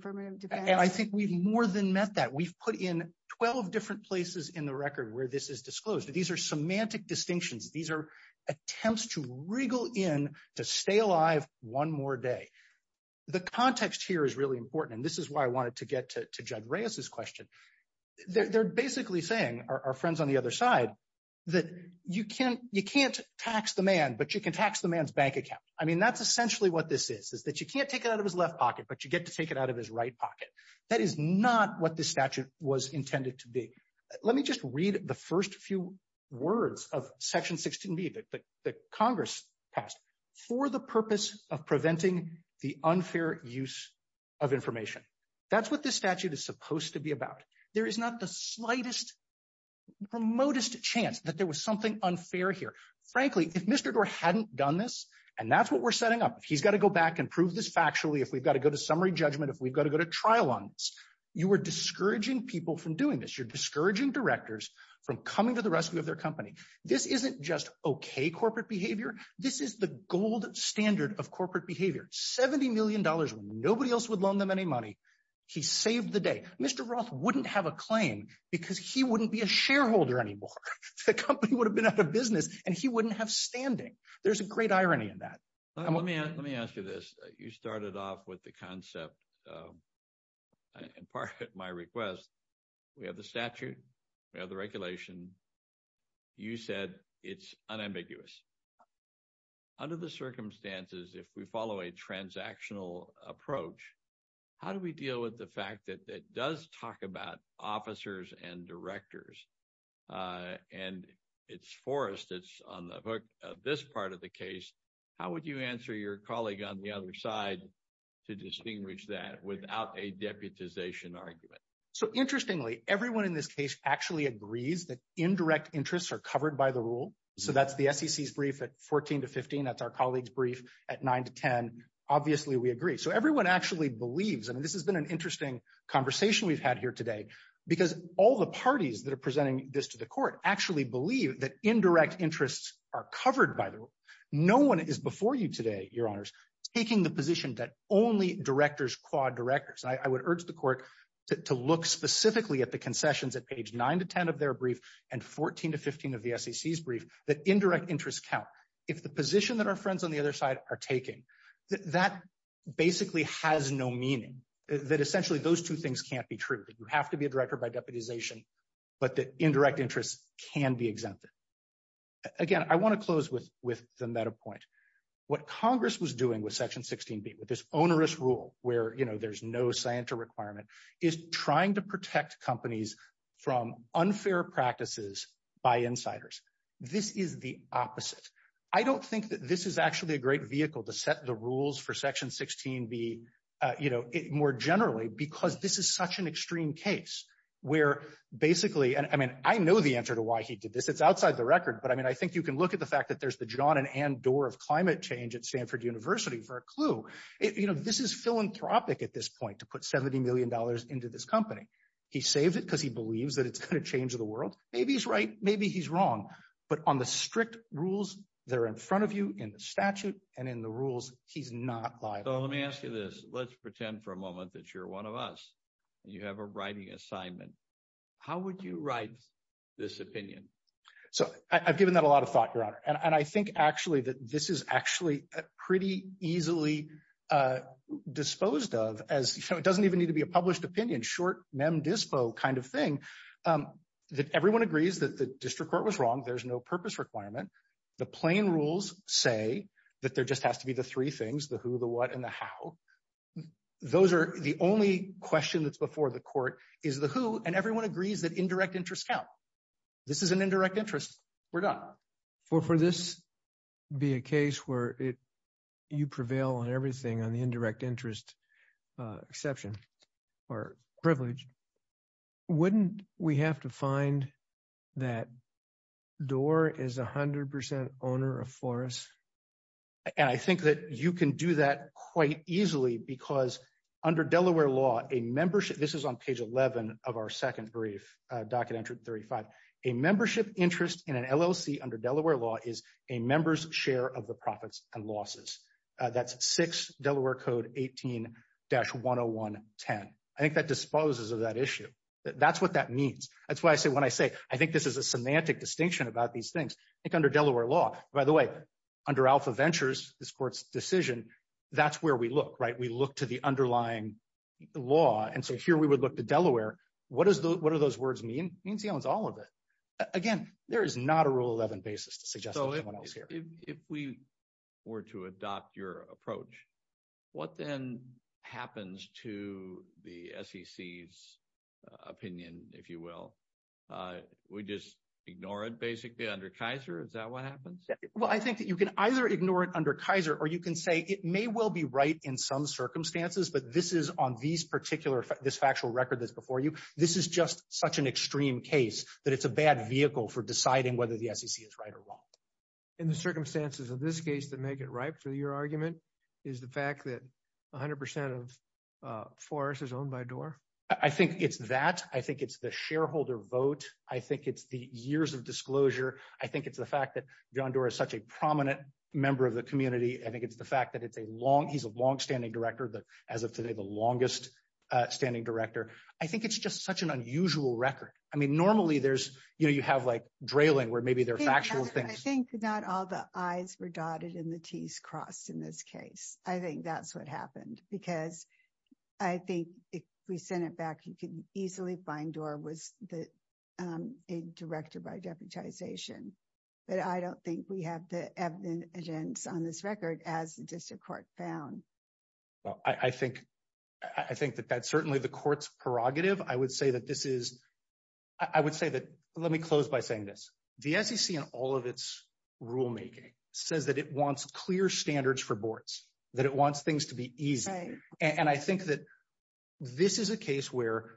record where this is disclosed? These are semantic distinctions. These are attempts to wriggle in to stay alive one more day. The context here is really important, and this is why I wanted to get to Judge Reyes's question. They're basically saying, our friends on the other side, that you can't tax the man, but you can tax the man's bank account. I mean, that's essentially what this is, is that you can't take it out of his left pocket, but you get to take it out of his right pocket. That is not what this statute was intended to be. Let me just read the first few words of Section 16b that Congress passed for the purpose of preventing the unfair use of information. That's what this statute is supposed to be about. There is not the slightest, remotest chance that there was something unfair here. Frankly, if Mr. Gore hadn't done this, and that's what we're setting up. He's got to go back and prove this factually, if we've got to go to summary judgment, if we've got to go to trial on this. You are discouraging people from doing this. You're discouraging directors from coming to the rescue of their company. This isn't just okay corporate behavior. This is the gold standard of corporate behavior. $70 million, nobody else would loan them any money. He saved the day. Mr. Roth wouldn't have a claim because he wouldn't be a shareholder anymore. The company would have been out of business, and he wouldn't have standing. There's a great irony in that. Let me ask you this. You started off with the concept, and part of my request, we have the statute, we have the regulation. You said it's unambiguous. Under the circumstances, if we follow a transactional approach, how do we deal with the fact that it does talk about officers and directors, and it's Forrest that's on the hook of this part of the case, how would you answer your colleague on the other side to distinguish that without a deputization argument? Interestingly, everyone in this case actually agrees that indirect interests are covered by the rule. That's the SEC's brief at 14 to 15. That's our colleague's brief at 9 to 10. Obviously, we agree. Everyone actually believes, and this has been an interesting conversation we've had here today, because all the parties that are presenting this to the court actually believe that indirect interests are covered by the rule. No one is before you today, your honors, taking the position that only directors quad directors. I would urge the court to look specifically at the concessions at page 9 to 10 of their brief and 14 to 15 of the SEC's brief that indirect interests count. If the position that our friends on the other side are taking, that basically has no meaning. Essentially, those two things can't be true. You have to be a director by deputization, but the indirect interests can be exempted. Again, I want to close with the meta point. What Congress was doing with Section 16b, with this onerous rule where there's no scienter requirement, is trying to protect companies from unfair practices by insiders. This is the opposite. I don't think that this is actually a great vehicle to set the rules for Section 16b more generally, because this is such an extreme case where basically... I know the answer to why he did this. It's outside the record, but I think you can look at the fact that there's the John and Ann Dorr of climate change at Stanford University for a clue. This is philanthropic at this point to put $70 million into this company. He saved it because he believes that it's going to change the world. Maybe he's right, maybe he's wrong, but on the strict rules that are in front of you in the statute and in the rules, he's not biased. Let me ask you this. Let's pretend for a moment that you're one of us and you have a writing assignment. How would you write this opinion? I've given that a lot of thought, Your Honor. I think actually that this is actually pretty easily disposed of. It doesn't even need to be a published opinion, short mem dispo kind of thing, that everyone agrees that the district court was wrong. There's no purpose requirement. The plain rules say that there just has to be the three things, the who, the what, and the how. The only question that's before the court is the who, and everyone agrees that indirect interests count. This is an indirect interest. We're done. For this to be a case where you prevail on everything on the indirect interest exception or privilege, wouldn't we have to find that Doar is 100% owner of Flores? And I think that you can do that quite easily because under Delaware law, a membership, this is on page 11 of our second brief, Document 35, a membership interest in an LLC under Delaware law is a member's share of the profits and losses. That's 6 Delaware Code 18-10110. I think that disposes of that issue. That's what that means. That's why I say when I say, I think this is a semantic distinction about these things, it's under Delaware law. By the way, under Alpha Ventures, this court's decision, that's where we look, right? We look to the underlying law, and so here we would look to Delaware. What do those words mean? It means he owns all of it. Again, there is not a 11 basis to suggest anyone else here. So if we were to adopt your approach, what then happens to the SEC's opinion, if you will? We just ignore it basically under Kaiser? Is that what happens? Well, I think that you can either ignore it under Kaiser or you can say it may well be right in some circumstances, but this is on these particular, this factual record that's before you, this is such an extreme case that it's a bad vehicle for deciding whether the SEC is right or wrong. In the circumstances of this case, to make it right for your argument, is the fact that 100% of Forrest is owned by Doar? I think it's that. I think it's the shareholder vote. I think it's the years of disclosure. I think it's the fact that John Doar is such a prominent member of the community. I think it's the fact that he's a long-standing director, as of today, the longest standing director. I think it's just such an unusual record. I mean, normally there's, you know, you have like drilling where maybe there are factual things. I think not all the I's were dotted and the T's crossed in this case. I think that's what happened because I think if we send it back, you can easily find Doar was a director by deputization, but I don't think we have the on this record as just a court found. Well, I think that that's certainly the court's prerogative. I would say that this is, I would say that, let me close by saying this. The SEC in all of its rulemaking says that it wants clear standards for boards, that it wants things to be easy. And I think that this is a case where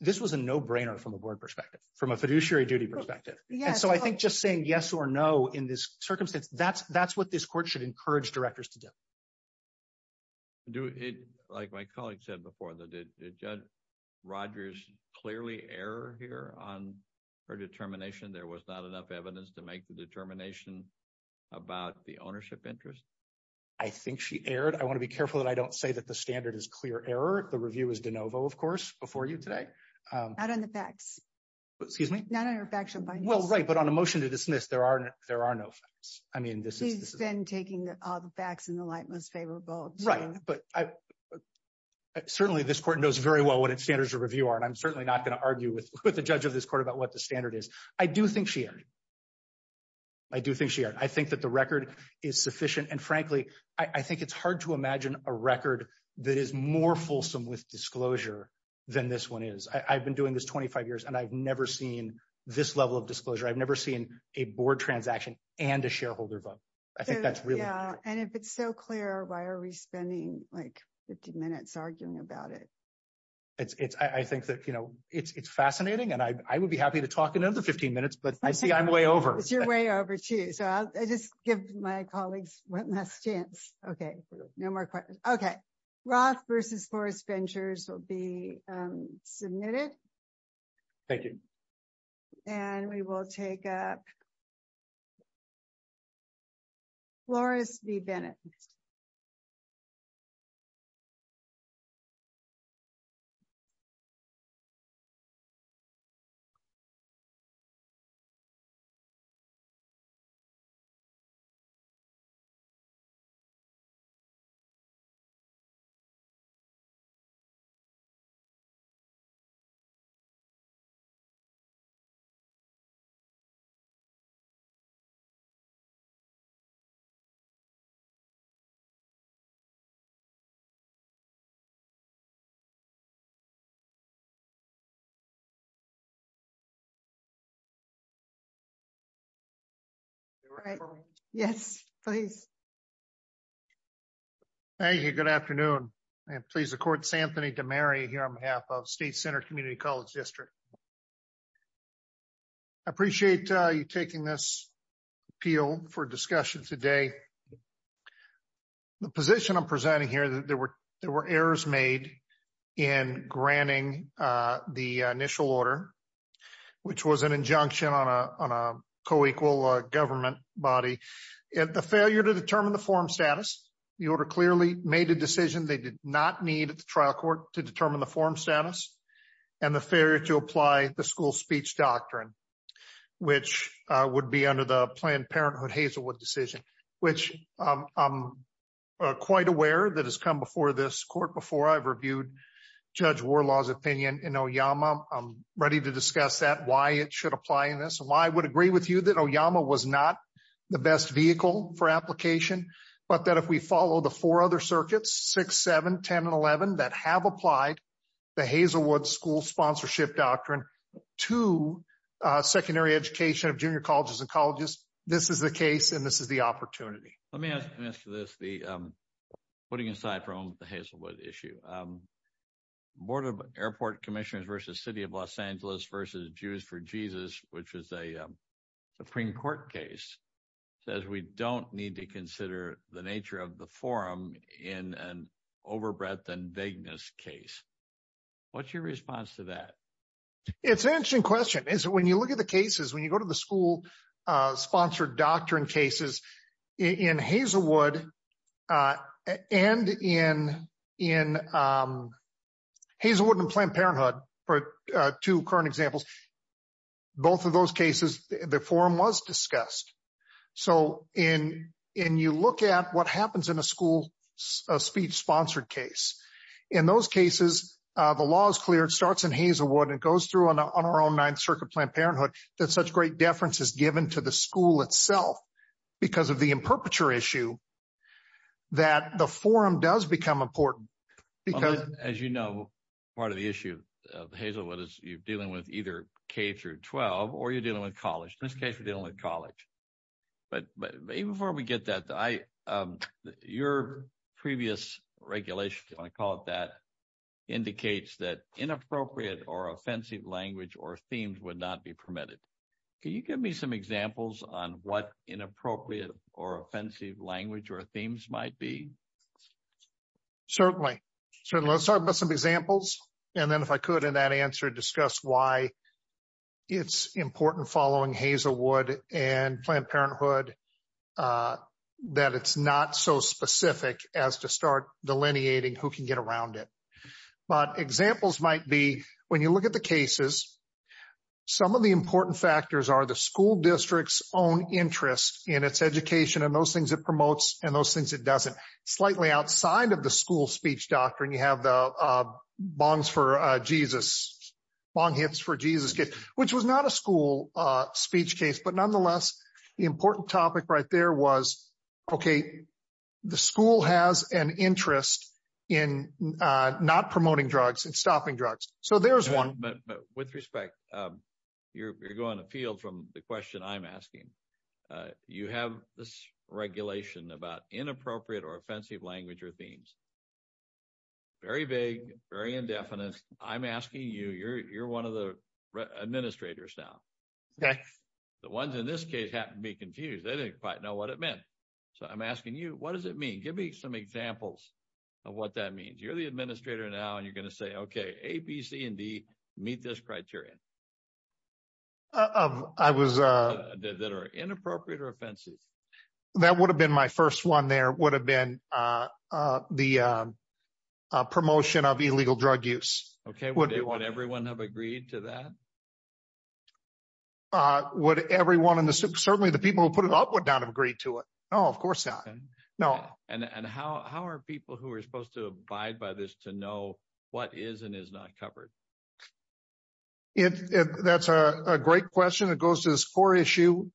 this was a no-brainer from a board perspective, from a fiduciary duty perspective. And so I think just saying yes or no in this circumstance, that's what this court should encourage directors to do. Like my colleague said before, did Judge Rogers clearly err here on her determination? There was not enough evidence to make the determination about the ownership interest? I think she erred. I want to be careful that I don't say that the standard is clear error. The review is de novo, of course, before you today. Not on the facts. Excuse me? Not on the facts. Well, right, on a motion to dismiss, there are no facts. I mean, this is... She's been taking all the facts in the light when they say we're both... Right. But certainly this court knows very well what its standards of review are, and I'm certainly not going to argue with the judge of this court about what the standard is. I do think she erred. I do think she erred. I think that the record is sufficient. And frankly, I think it's hard to imagine a record that is more fulsome with disclosure than this one is. I've been doing this 25 years, and I've never seen this level of disclosure. I've never seen a board transaction and a shareholder book. I think that's really... Yeah. And if it's so clear, why are we spending like 15 minutes arguing about it? I think that it's fascinating, and I would be happy to talk another 15 minutes, but I see I'm way over. You're way over too. So I'll just give my colleagues one last chance. Okay. No more questions. Okay. Roth versus Forrest Ventures will be submitted. Thank you. And we will take up public comments. You are right. Yes, thanks. Thank you. Good afternoon. And please, the court, Anthony Demary here on behalf of State Center Community College District. I appreciate you taking this appeal for discussion today. The position I'm presenting here, there were errors made in granting the initial order, which was an injunction on a co-equal government body. If the failure to determine the forum status, the order clearly made a decision they did not need at the trial court to determine the forum status and the failure to apply the school speech doctrine, which would be under the Planned Parenthood Hazelwood decision, which I'm quite aware that has come before this court before I've reviewed Judge Warlaw's opinion in Oyama. I'm ready to discuss that, why it should apply in this, and why I would agree with you that Oyama was not the best vehicle for application, but that if we follow the four other circuits, 6, 7, 10, and 11, that have applied the Hazelwood school sponsorship doctrine to secondary education of junior colleges and colleges, this is the case, and this is the opportunity. Let me add to this, putting aside from the Hazelwood issue, Board of Airport Commissioners versus City of Los Angeles versus Jews for Jesus, which is a Supreme Court case, says we don't need to consider the nature of the forum in an overbreadth and vagueness case. What's your response to that? It's an interesting question. And so when you look at the cases, when you go to the school sponsored doctrine cases in Hazelwood and in Hazelwood and Planned Parenthood, or two current examples, both of those cases, the forum was discussed. So in you look at what happens in a school speech sponsored case, in those cases, the law is clear. It starts in Hazelwood and goes through on our own Ninth Circuit Planned Parenthood that such great deference is given to the school itself because of the imperpeture issue that the forum does become important. As you know, part of the issue of Hazelwood is you're dealing with either K through 12 or you're dealing with college. In this case, you're dealing with college. But before we get that, your previous regulation, I call it that, indicates that inappropriate or offensive language or themes would not be permitted. Can you give me some examples on what inappropriate or offensive language or themes might be? Certainly. So let's talk about some examples. And then if I could, in that answer, discuss why it's important following Hazelwood and Planned Parenthood that it's not so specific as to start delineating who can get around it. But examples might be when you look at the cases, some of the important factors are the school district's own interest in its education and those things it promotes and those things it doesn't. Slightly outside of the school speech doctrine, you have the bongs for Jesus, bong hips for Jesus, which was not a school speech case, but nonetheless, the important topic right there was, OK, the school has an interest in not promoting drugs and stopping drugs. So there's one. But with respect, you're going to appeal from the question I'm asking. You have this regulation about inappropriate or offensive language or themes. Very vague, very indefinite. I'm asking you, you're one of the administrators now. OK, the ones in this case happen to be confused. They don't quite know what it meant. So I'm asking you, what does it mean? Give me some examples of what that means. You're the administrator now and you're going to say, OK, A, B, C and D meet this criteria. I was that are inappropriate or offensive. That would have been my first one. There would have been the promotion of illegal drug use. OK, what do you want? Everyone have agreed to that. Would everyone in the certainly the people who put it up would not agree to it? Oh, of course not. No. And how are people who are supposed to abide by this to know what is and is not covered? If that's a great question, it goes to this core issue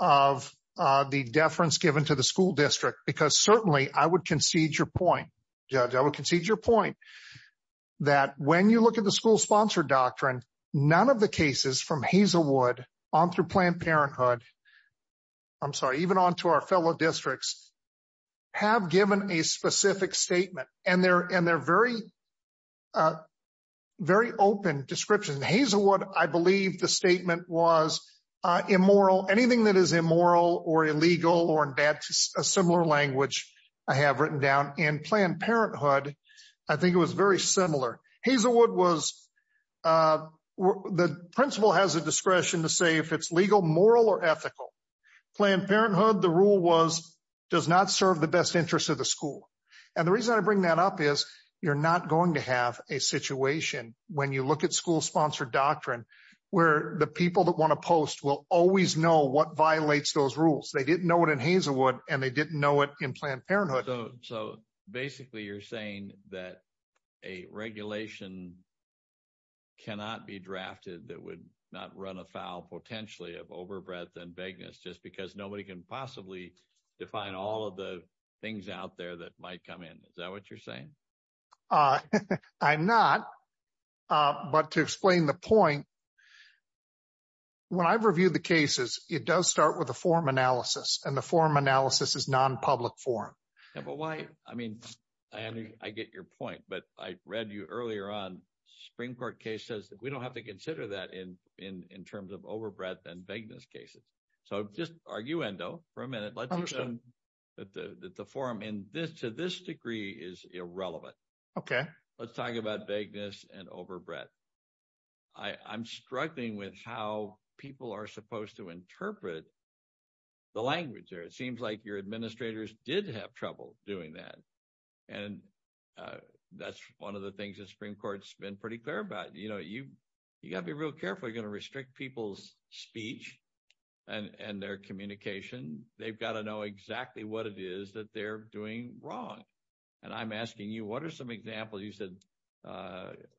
of the deference given to the school district, because certainly I would concede your point. Judge, I would concede your point that when you look at the school sponsored doctrine, none of the cases from Hazelwood on through Planned Parenthood. I'm sorry, even onto our fellow districts have given a specific statement and they're and they're very, very open description. Hazelwood, I believe the statement was immoral. Anything that is immoral or illegal or a similar language I have written down in Planned Parenthood. I think it was very similar. Hazelwood was the principal has the discretion to say if it's legal, moral or ethical. Planned Parenthood, the rule was does not serve the best interest of the school. And the reason I bring that up is you're not going to have a situation when you look at school sponsored doctrine, where the people that want to post will always know what violates those rules. They didn't know it in Hazelwood and they didn't know it in Planned Parenthood. So basically you're saying that a regulation cannot be drafted that would not run afoul potentially of overbreadth and vagueness just because nobody can possibly define all of the things out there that might come in. Is that what you're saying? I'm not. But to explain the point. When I've reviewed the cases, it does start with a form analysis and the form analysis is non-public form. Yeah, but why? I mean, I get your point, but I read you earlier on springboard cases that we don't have to consider that in terms of overbreadth and vagueness cases. So just arguendo for a minute. Let's assume that the form in this to this degree is irrelevant. OK, let's talk about vagueness and overbreadth. I'm struggling with how people are supposed to interpret the language there. It seems like your administrators did have trouble doing that. And that's one of the things that Supreme Court's been pretty clear about. You know, you got to be real careful. You're going to restrict people's speech and their communication. They've got to know exactly what it is that they're doing wrong. And I'm asking you, what are some examples? You said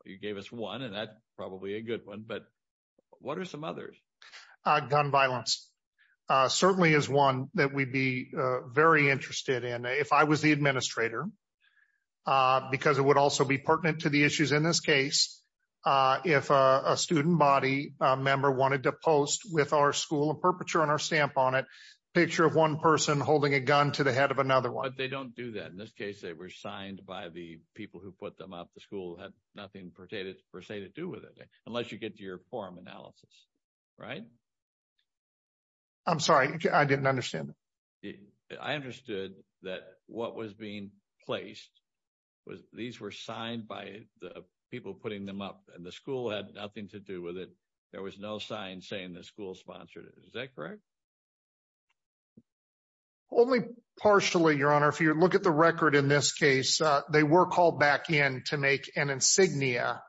you gave us one and that's probably a good one. But what are some others? Gun violence certainly is one that we'd be very interested in if I was the administrator, because it would also be pertinent to the issues in this case. If a student body member wanted to post with our school a perpetrator and our stamp on it, picture of one person holding a gun to the head of another one. They don't do that. In this case, they were signed by the people who put them up. The school had nothing per se to do with it, unless you get your form analysis, right? I'm sorry. I didn't understand. I understood that what was being placed was these were signed by the people putting them up and the school had nothing to do with it. There was no sign saying the school sponsored it. Is that correct? Only partially, Your Honor. If you look at the record in this case, they were called back in to make an insignia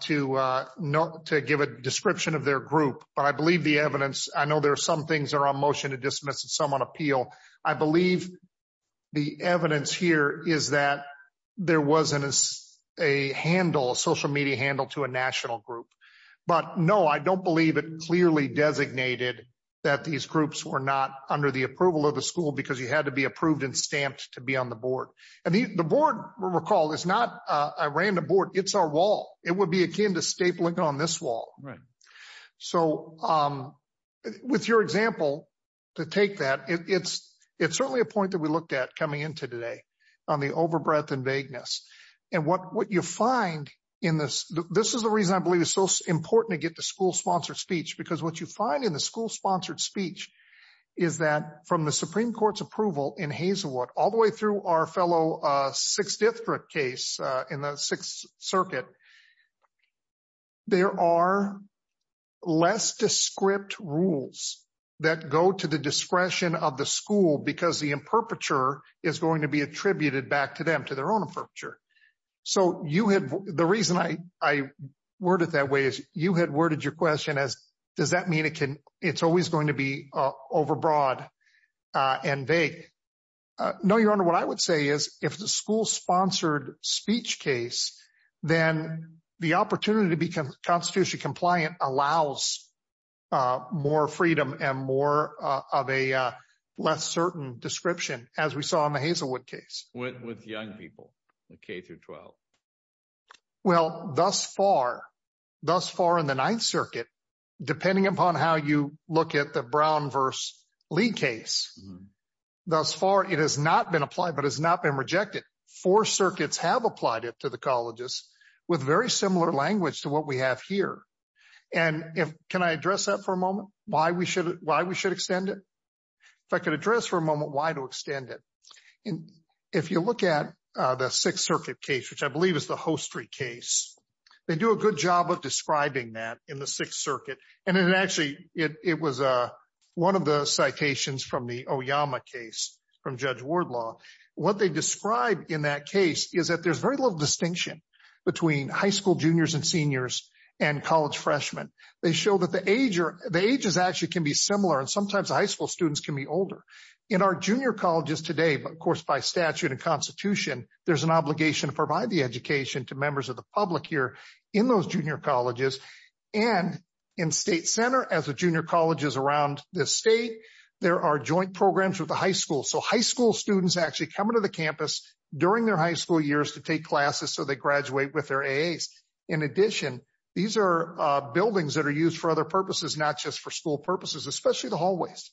to give a description of their group. But I believe the evidence, I know there are some things that are on motion to dismiss and some on appeal. I believe the evidence here is that there wasn't a handle, a social media handle to a national group. But no, I don't believe it clearly designated that these groups were not under the approval of the school because you had to be approved and stamped to be on the board. And the board, recall, is not a random board. It's our wall. It would be akin to stapling on this wall. So with your example, to take that, it's certainly a point that we looked at coming into today on the over-breath and vagueness. And what you find in this, this is the reason I believe it's so important to get the school-sponsored speech because what you find in the school-sponsored speech is that from the Supreme Court's approval in Hazelwood, all the way through our fellow Sixth District case in the Sixth Circuit, there are less discrete rules that go to the discretion of the school because the imperpeture is going to be attributed back to them, to their own imperpeture. So you had, the reason I worded that way is you had worded your question as, does that mean it can, it's always going to be over-broad and vague? No, Your Honor, what I would say is if the school-sponsored speech case, then the opportunity to be constitutionally compliant allows more freedom and more of a less certain description as we saw in the Hazelwood case. With young people, the K through 12. Well, thus far, thus far in the Ninth Circuit, depending upon how you look at the Brown versus Lee case, thus far it has not been applied but has not been rejected. Four circuits have applied it to the colleges with very similar language to what we have here. And if, can I address that for a moment? Why we should, why we should extend it? If I could address for a moment, why to extend it? And if you look at the Sixth Circuit case, which I believe is the Hostry case, they do a good job of describing that in the Sixth Circuit. And then actually it was one of the citations from the Oyama case from Judge Wardlaw. What they described in that case is that there's very little distinction between high school juniors and seniors and college freshmen. They show that the age or the ages actually can be similar. And sometimes high school students can be older. In our junior colleges today, but of course, by statute and constitution, there's an obligation to provide the education to members of the public here in those junior colleges. And in state center, as a junior colleges around the state, there are joint programs with the high school. So high school students actually come into the campus during their high school years to take classes. So they graduate with their AAs. In addition, these are buildings that are used for other purposes, not just for school purposes, especially the hallways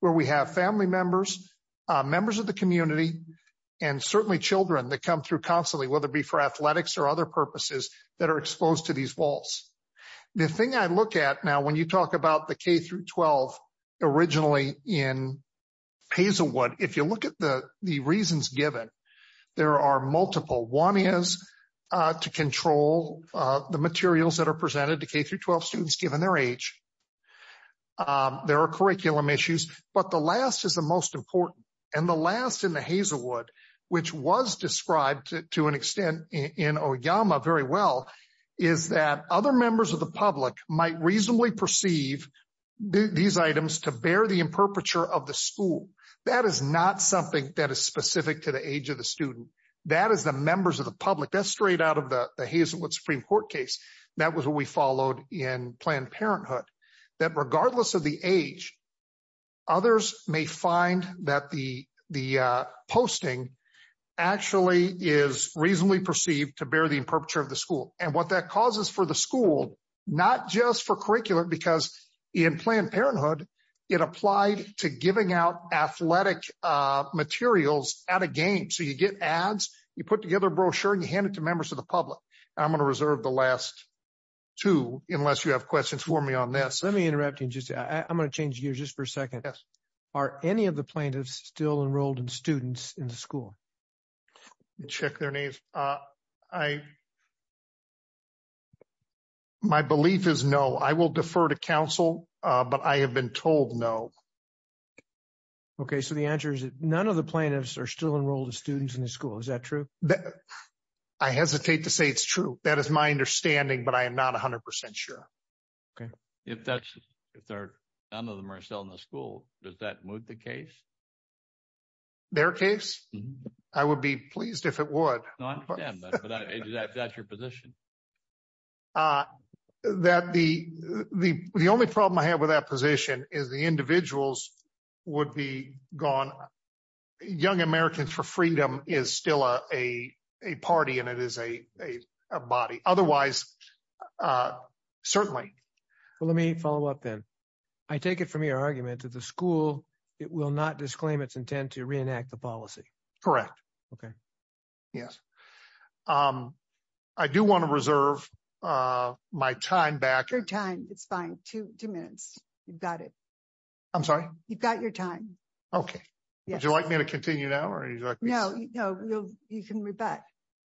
where we have family members, members of the community and certainly children that come through constantly, whether it be for athletics or other purposes that are exposed to these walls. The thing I look at now when you talk about the K through 12, originally in Hazelwood, if you look at the reasons given, there are multiple. One is to control the materials that are presented to K through 12 students, given their age. There are curriculum issues, but the last is the most important. And the last in the Hazelwood, which was described to an extent in Oyama very well, is that other members of the public might reasonably perceive these items to bear the imperpeture of the school. That is not something that is specific to the age of the student. That is the members of the public. That's straight out of the Hazelwood Supreme Court case. That was what we followed in Planned Parenthood, that regardless of the age, others may find that the posting actually is reasonably perceived to bear the imperpeture of the school. And what that causes for the school, not just for curriculum, because in Planned Parenthood, it applied to giving out athletic materials at a game. So you get ads, you put together a brochure and you hand it to members of the public. I'm gonna reserve the last two unless you have questions for me on this. Let me interrupt you and just, I'm gonna change gears just for a second. Yes. Are any of the plaintiffs still enrolled in students in the school? Let me check their names. My belief is no. I will defer to council, but I have been told no. So the answer is that none of the plaintiffs are still enrolled in students in the school. Is that true? I hesitate to say it's true. That is my understanding, but I am not 100% sure. If none of them are still in the school, does that move the case? Their case? I would be pleased if it would. No, I understand, but is that your position? The only problem I have with that position is the individuals would be gone. Young Americans for Freedom is still a party and it is a body. Otherwise, certainly. Let me follow up then. I take it from your argument that the school, it will not disclaim its intent to reenact the policy. Correct. Okay. Yes. I do wanna reserve my time back. Your time is fine, two minutes. You've got it. I'm sorry? You've got your time. Okay. Would you like me to continue now? No, no, you can move back.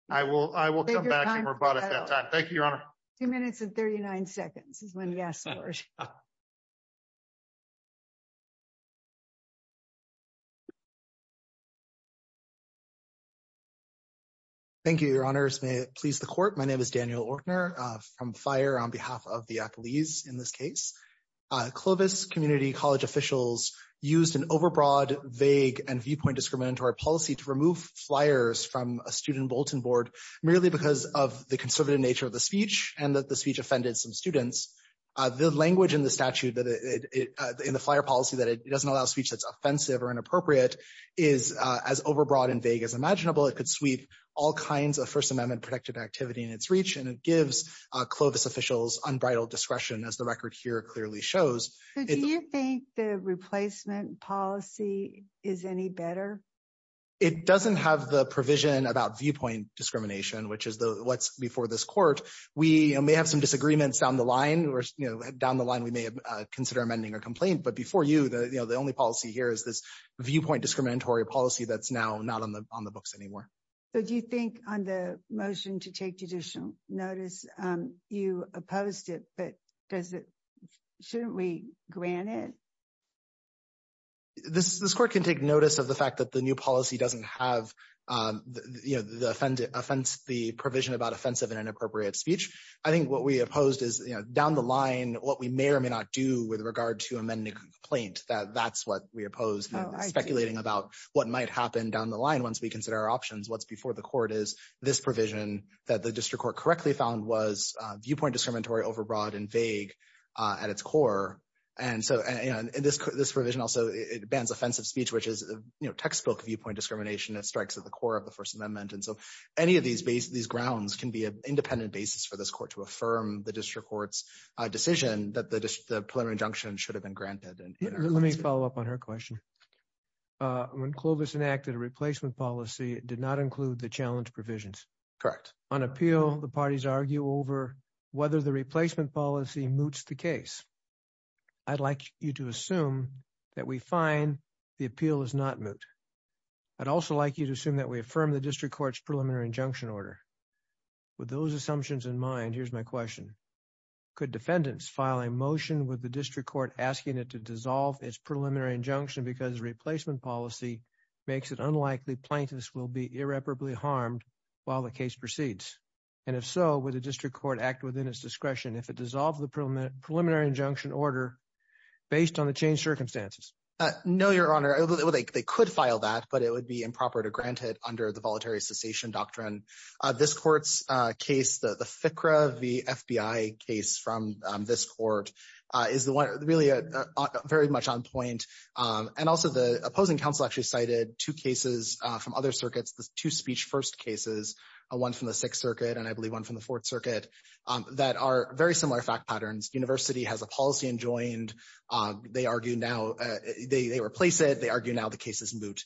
I will come back and rebut at that time. Thank you, Your Honor. Two minutes and 39 seconds is when you ask first. Thank you, Your Honors. May it please the court. My name is Daniel Ortner from FIRE on behalf of the athletes in this case. Clovis community college officials used an overbroad, vague, and viewpoint discriminatory policy to remove flyers from a student Bolton board merely because of the conservative nature of the speech and that the speech offended some students. The language in the statute that in the FIRE policy that it doesn't allow speech that's offensive or inappropriate is as overbroad and vague as imaginable. It could sweep all kinds of First Amendment protected activity in its reach and it gives Clovis officials unbridled discretion as the record here clearly shows. Do you think the replacement policy is any better? It doesn't have the provision about viewpoint discrimination, which is what's before this court. We may have some disagreements down the line or down the line, we may consider amending a complaint, but before you, the only policy here is this viewpoint discriminatory policy that's now not on the books anymore. So do you think on the motion to take judicial notice, you opposed it, but shouldn't we grant it? This court can take notice of the fact that the new policy doesn't have the provision about offensive and inappropriate speech. I think what we opposed is down the line, what we may or may not do with regard to amending a complaint, that that's what we oppose, speculating about what might happen down the line once we consider our options. What's before the court is this provision that the district court correctly found was viewpoint discriminatory, overbroad and vague at its core. And this provision also, it bans offensive speech, which is textbook viewpoint discrimination that strikes at the core of the First Amendment. And so any of these grounds can be an independent basis for this court to affirm the district court's decision that the preliminary injunction should have been granted. Let me follow up on her question. When Clovis enacted a replacement policy, it did not include the challenge provisions. Correct. On appeal, the parties argue over whether the replacement policy moots the case. I'd like you to assume that we find the appeal is not moot. I'd also like you to assume that we affirm the district court's preliminary injunction order. With those assumptions in mind, here's my question. Could defendants file a motion with the district court asking it to dissolve its preliminary injunction because the replacement policy makes it unlikely plaintiffs will be irreparably harmed while the case proceeds. And if so, would the district court act within its discretion if it dissolved the preliminary injunction order based on the changed circumstances? No, Your Honor. They could file that, but it would be improper to grant it under the Voluntary Cessation Doctrine. This court's case, the FICRA, the FBI case from this court, is really very much on point. And also the opposing counsel actually cited two cases from other circuits, the two speech first cases, one from the Sixth Circuit and I believe one from the Fourth Circuit, that are very similar fact patterns. University has a policy enjoined. They argue now they replace it. They argue now the case is moot.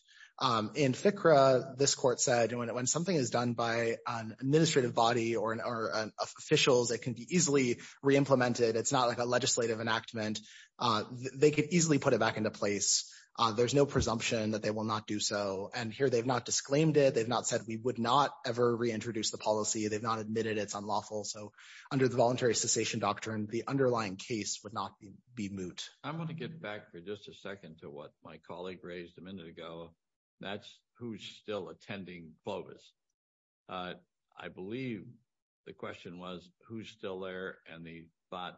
In FICRA, this court said when something is done by an administrative body or an official that can be easily re-implemented, it's not like a legislative enactment, they could easily put it back into place. There's no presumption that they will not do so. And here they've not disclaimed it. They've not said we would not ever reintroduce the policy. They've not admitted it's unlawful. So under the voluntary cessation doctrine, the underlying case would not be moot. I want to get back for just a second to what my colleague raised a minute ago. That's who's still attending FOBIS. I believe the question was who's still there and the thought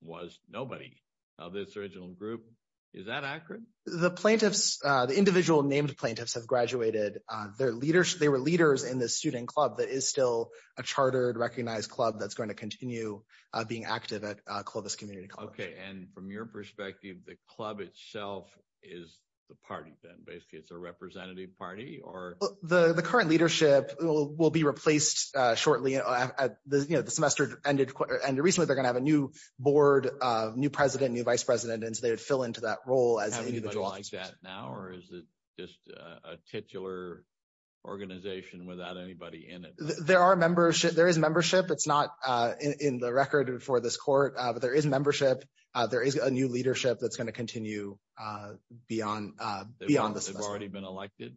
was nobody of this original group. Is that accurate? The plaintiffs, the individual named plaintiffs have graduated. They were leaders in the student club that is still a chartered recognized club that's going to continue being active at Clovis Community College. OK, and from your perspective, the club itself is the party, then basically it's a representative party or? The current leadership will be replaced shortly. The semester ended and recently they're going to have a new board, new president, new vice president. And they would fill into that role as an individual. Is that now or is it just a titular organization without anybody in it? There are membership. There is membership. It's not in the record for this court, but there is membership. There is a new leadership that's going to continue beyond beyond this. They've already been elected.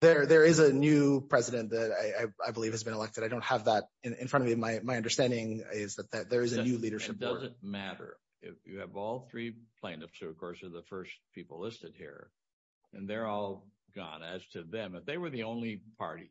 There is a new president that I believe has been elected. I don't have that in front of me. My understanding is that there is a new leadership. It doesn't matter if you have all three plaintiffs, who, of course, are the first people listed here and they're all gone as to them. They were the only party.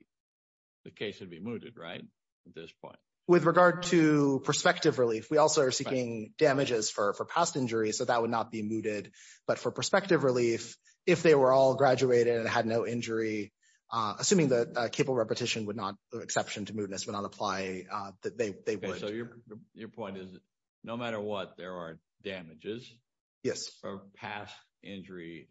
The case would be mooted, right? At this point. With regard to prospective relief, we also are seeking damages for past injuries, so that would not be mooted. But for prospective relief, if they were all graduated and had no injury, assuming that capable repetition would not be an exception to move, this would not apply. So your point is, no matter what, there are damages for past injury.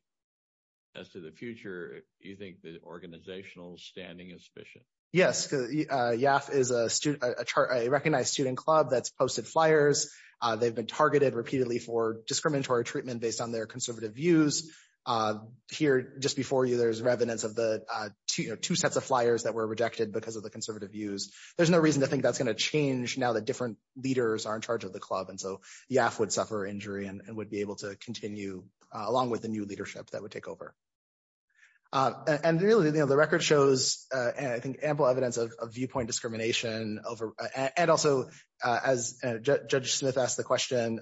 As to the future, do you think the organizational standing is sufficient? Yes. YAF is a recognized student club that's posted flyers. They've been targeted repeatedly for discriminatory treatment based on their conservative views. Here, just before you, there's evidence of the two sets of flyers that were rejected because of the conservative views. There's no reason to think that's going to change now that different leaders are in charge of the club. And so YAF would suffer injury and would be able to continue along with the new leadership that would take over. And really, the record shows, I think, ample evidence of viewpoint discrimination. And also, as Judge Smith asked the question,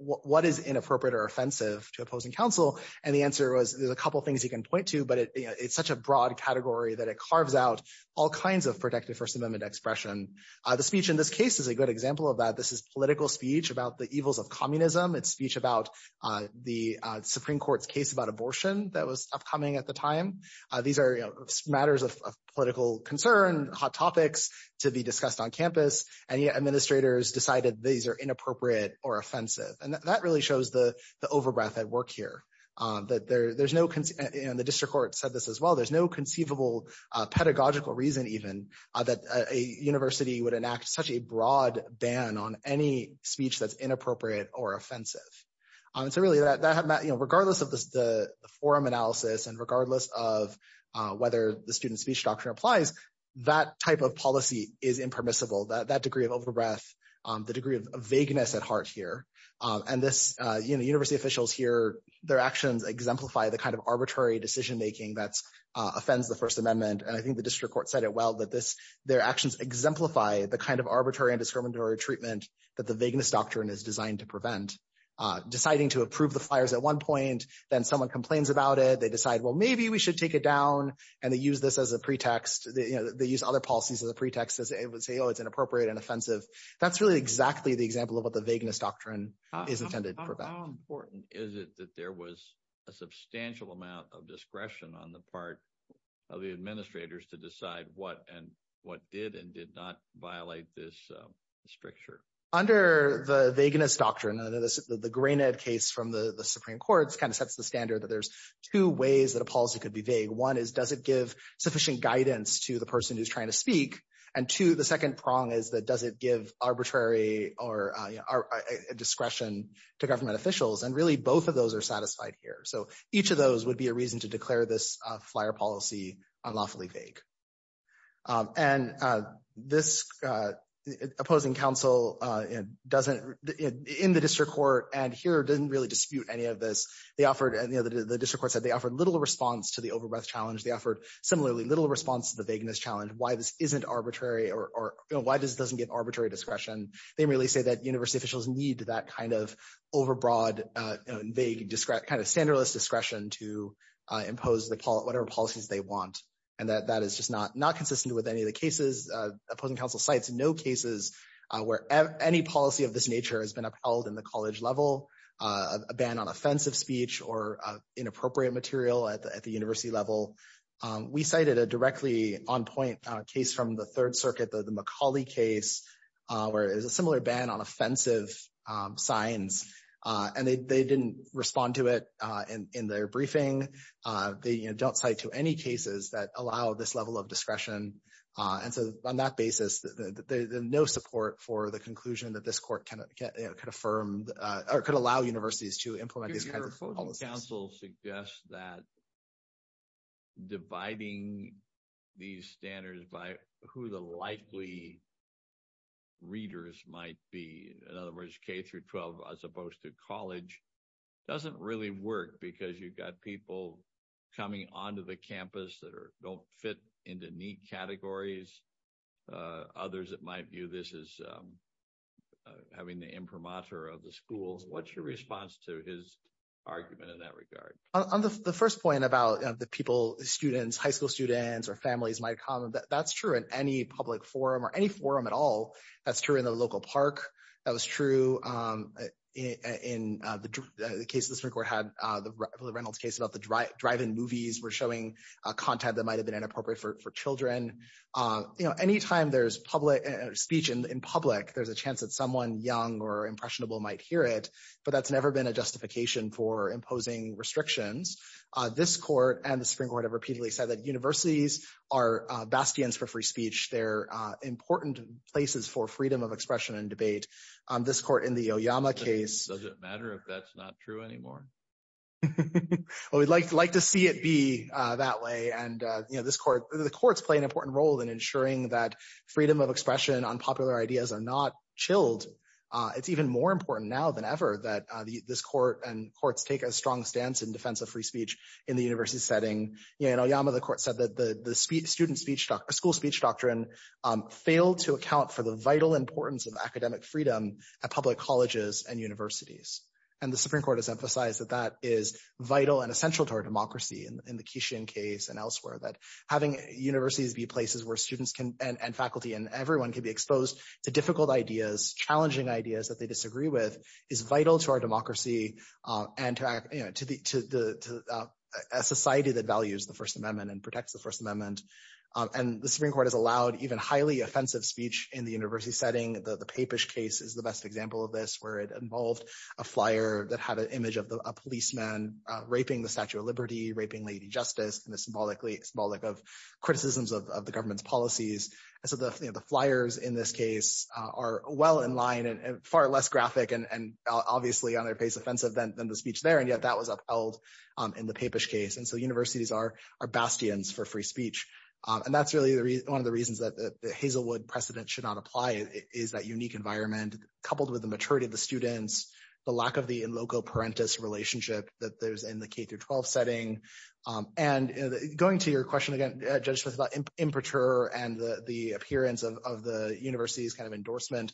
what is inappropriate or offensive to opposing counsel? And the answer was, there's a couple of things you can point to, but it's such a broad category that it carves out all kinds of protective First Amendment expression. The speech in this case is a good example of that. This is political speech about the evils of communism. It's speech about the Supreme Court's case about abortion that was upcoming at the time. These are matters of political concern, hot topics to be discussed on campus. And yet, administrators decided these are inappropriate or offensive. And that really shows the overbreath at work here. And the district court said this as well. There's no conceivable pedagogical reason, even, that a university would enact such a broad ban on any speech that's inappropriate or offensive. So really, regardless of the forum analysis and regardless of whether the student speech doctrine applies, that type of policy is impermissible. That degree of overbreath, the degree of vagueness at heart here, and this, you know, university officials here, their actions exemplify the kind of arbitrary decision-making that offends the First Amendment. And I think the district court said it well, that this, their actions exemplify the kind of arbitrary and discriminatory treatment that the vagueness doctrine is designed to prevent. Deciding to approve the flyers at one point, then someone complains about it. They decide, well, maybe we should take it down. And they use this as a pretext. They use other policies as a pretext to say, oh, it's inappropriate and offensive. That's really exactly the example of what the vagueness doctrine is intended to prevent. How important is it that there was a substantial amount of discretion on the part of the administrators to decide what and what did and did not violate this stricture? Under the vagueness doctrine, the Greenhead case from the Supreme Court kind of sets the standard that there's two ways that a policy could be vague. One is, does it give sufficient guidance to the person who's trying to speak? And two, the second prong is that, does it give arbitrary discretion to government officials? And really, both of those are satisfied here. So each of those would be a reason to declare this flyer policy unlawfully vague. And this opposing counsel doesn't, in the district court and here didn't really dispute any of this. They offered, the district court said, they offered little response to the overbearing challenge. They offered, similarly, little response to the vagueness challenge, why this isn't arbitrary or why this doesn't give arbitrary discretion. They really say that university officials need that kind of overbroad, vague, kind of standardless discretion to impose whatever policies they want. And that is just not consistent with any of the cases, opposing counsel sites, no cases where any policy of this nature has been upheld in the college level, a ban on offensive speech or inappropriate material at the university level. We cited a directly on point case from the third circuit, the McCauley case, where it was a similar ban on offensive signs. And they didn't respond to it in their briefing. They don't play to any cases that allow this level of discretion. And so on that basis, no support for the conclusion that this court could affirm or could allow universities to implement this kind of proposal. The counsel suggests that dividing these standards by who the likely readers might be, whereas K through 12, as opposed to college, doesn't really work because you've got people coming onto the campus that don't fit into neat categories. Others that might view this as having the imprimatur of the school. What's your response to his argument in that regard? On the first point about the people, students, high school students or families might come, that's true in any public forum or any forum at all. That's true in the local park. That was true in the case of the Supreme Court had the Reynolds case about the drive-in movies were showing a content that might've been inappropriate for children. Anytime there's public speech in public, there's a chance that someone young or impressionable might hear it. But that's never been a justification for imposing restrictions. This court and the Supreme Court have repeatedly said that universities are bastions for free speech. They're important places for freedom of expression and debate. This court in the Oyama case. Does it matter if that's not true anymore? I would like to see it be that way. And the courts play an important role in ensuring that freedom of expression and unpopular ideas are not chilled. It's even more important now than ever that this court and courts take a strong stance in defense of free speech in the university setting. In Oyama, the court said that the school speech doctrine failed to account for the vital importance of academic freedom at public colleges and universities. And the Supreme Court has emphasized that that is vital and essential to our democracy in the Kishin case and elsewhere that having universities be places where students can and faculty and everyone can be exposed to difficult ideas, challenging ideas that they disagree with is vital to our democracy and to the society that values the First Amendment and protects the First Amendment. And the Supreme Court has allowed even highly offensive speech in the university setting. The Papish case is the best example of this, where it involved a flyer that had an image of a policeman raping the Statue of Liberty, raping Lady Justice, and the symbolic of criticisms of the government's policies. And so the flyers in this case are well in line and far less graphic and obviously on their face offensive than the speech there. And yet that was upheld in the Papish case. And so universities are bastions for free speech. And that's really one of the reasons that the Hazelwood precedent should not apply, is that unique environment, coupled with the maturity of the students, the lack of the in loco parentis relationship that there's in the K-12 setting. And going to your question again, Judges, about imperturbe and the appearance of the university's kind of endorsement.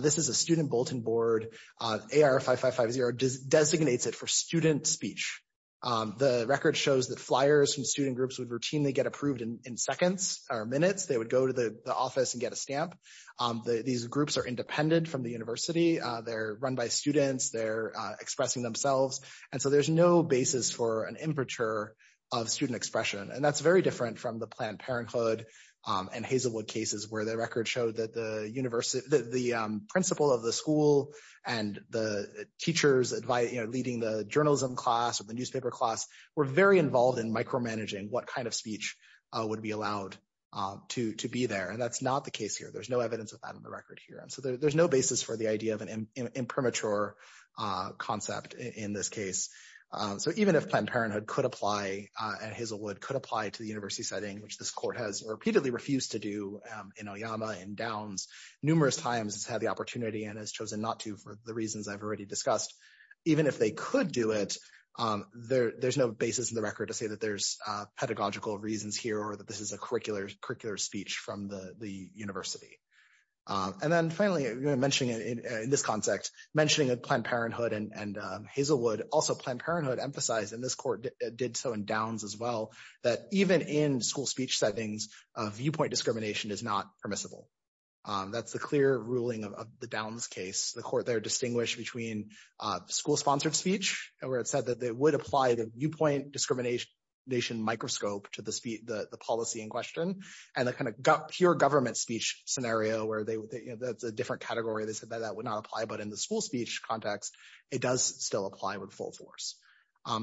This is a student bulletin board. AR-5550 designates it for student speech. The record shows that flyers from student groups would routinely get approved in seconds or minutes. They would go to the office and get a stamp. These groups are independent from the university. They're run by students. They're expressing themselves. And so there's no basis for an imperturbe of student expression. And that's very different from the Planned Parenthood and Hazelwood cases, where the record showed that the principal of the school and the teachers leading the journalism class or the newspaper class were very involved in micromanaging what kind of speech would be allowed to be there. And that's not the case here. There's no evidence of that in the record here. So there's no basis for the idea of an impermature concept in this case. So even if Planned Parenthood could apply, Hazelwood could apply to the university setting, which this court has repeatedly refused to do in Oyama and Downs numerous times to have the opportunity and has chosen not to for the reasons I've already discussed. Even if they could do it, there's no basis in the record to say that there's pedagogical reasons here or that this is a curricular speech from the university. And then finally, mentioning in this context, mentioning Planned Parenthood and Hazelwood, also Planned Parenthood emphasized, and this court did so in Downs as well, that even in school speech settings, viewpoint discrimination is not permissible. That's a clear ruling of the Downs case. The court there distinguished between school-sponsored speech, where it said that they would apply the viewpoint discrimination microscope to the policy in question and a kind of pure government speech scenario where that's a different category. They said that that would not apply. But in the school speech context, it does still apply with full force.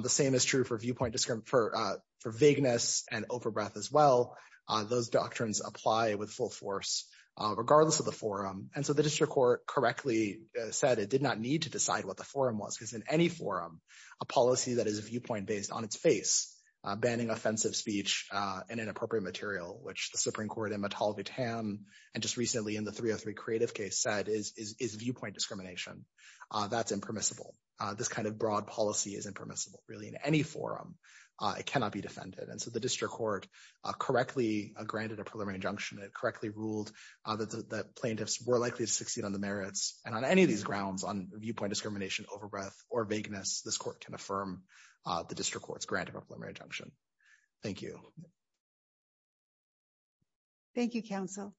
The same is true for viewpoint, for vagueness and over-breath as well. Those doctrines apply with full force regardless of the forum. And so the district court correctly said it did not need to decide what the forum was, because in any forum, a policy that is viewpoint-based on its face, banning offensive speech and inappropriate material, which the Supreme Court in Mattel v. Tam and just recently in the 303 Creative case said is viewpoint discrimination. That's impermissible. This kind of broad policy is impermissible really in any forum. It cannot be defended. And so the district court correctly granted a preliminary injunction. It correctly ruled that plaintiffs were likely to succeed on the merits. And on any of these grounds on viewpoint discrimination, over-breath or vagueness, this court can affirm the district court's granted a preliminary injunction. Thank you. Thank you, counsel.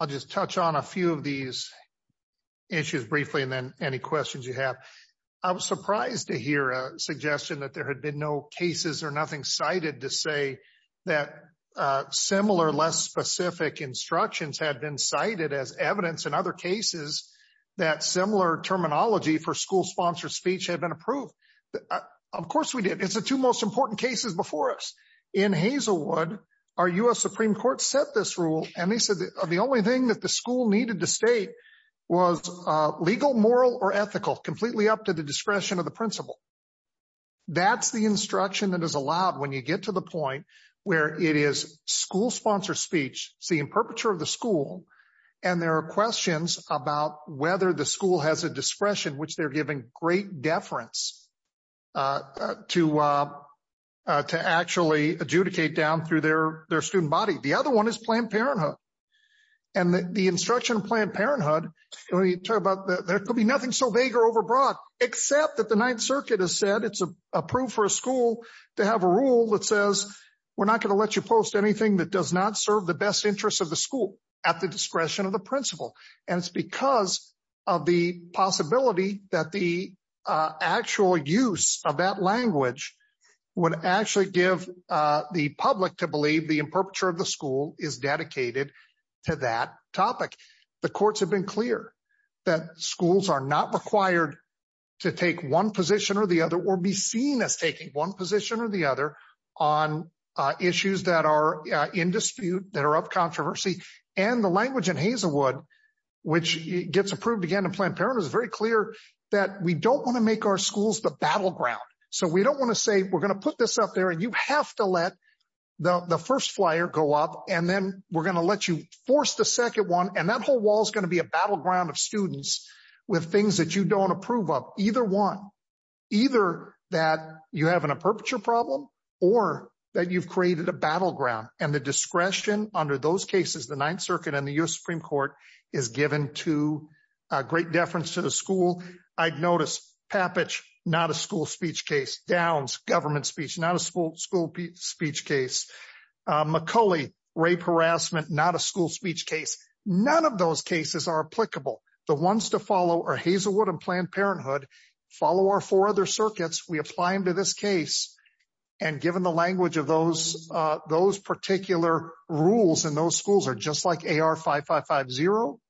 I'll just touch on a few of these issues briefly and then any questions you have. I was surprised to hear a suggestion that there had been no cases or nothing cited to say that similar, less specific instructions had been cited as evidence in other cases that similar terminology for school-sponsored speech had been approved. Of course we did. It's the two most important cases before us. In Hazelwood, our U.S. Supreme Court set this rule and they said the only thing that the school needed to state was legal, moral or ethical, completely up to the discretion of the principal. That's the instruction that is allowed when you get to the point where it is school-sponsored speech. It's the imperpeture of the school. And there are questions about whether the school has a discretion which they're giving great deference to actually adjudicate down through their student body. The other one is Planned Parenthood. And the instruction of Planned Parenthood, there could be nothing so vague or overbrought except that the Ninth Circuit has said it's approved for a school to have a rule that says we're not gonna let you post anything that does not serve the best interests of the school at the discretion of the principal. And it's because of the possibility that the actual use of that language would actually give the public to believe the imperpeture of the school is dedicated to that topic. The courts have been clear that schools are not required to take one position or the other or be seen as taking one position or the other on issues that are in dispute, that are up controversy. And the language in Hazelwood which gets approved again in Planned Parenthood is very clear that we don't wanna make our schools the battleground. So we don't wanna say we're gonna put this up there you have to let the first flyer go up and then we're gonna let you force the second one and that whole wall is gonna be a battleground of students with things that you don't approve of either one. Either that you have an imperpeture problem or that you've created a battleground and the discretion under those cases the Ninth Circuit and the US Supreme Court is given to a great deference to the school. I'd noticed Pappage, not a school speech case Downs, government speech, not a school speech case. McCulley, rape harassment, not a school speech case. None of those cases are applicable. The ones to follow are Hazelwood and Planned Parenthood follow our four other circuits we apply them to this case and given the language of those particular rules and those schools are just like AR 5550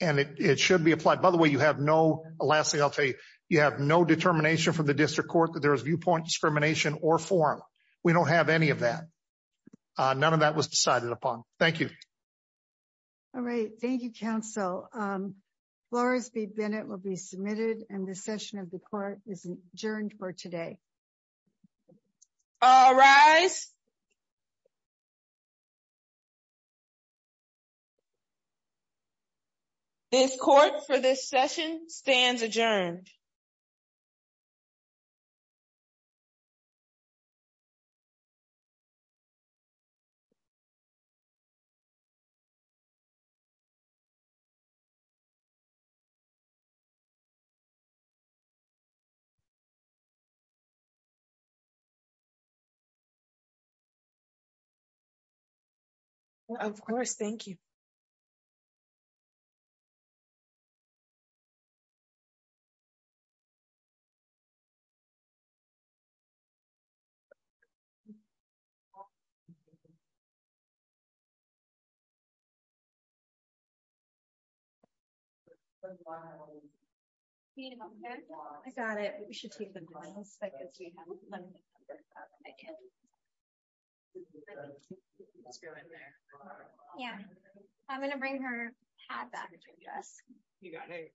and it should be applied. By the way, you have no... Lastly, I'll say you have no determination from the district court that there's viewpoint discrimination or forum. We don't have any of that. None of that was decided upon. Thank you. All right. Thank you, counsel. Flores B. Bennett will be submitted and the session of the court is adjourned for today. All rise. This court for this session stands adjourned. Thank you. Of course, thank you. I got it. Yeah, I'm gonna bring her back. You got it. Wow.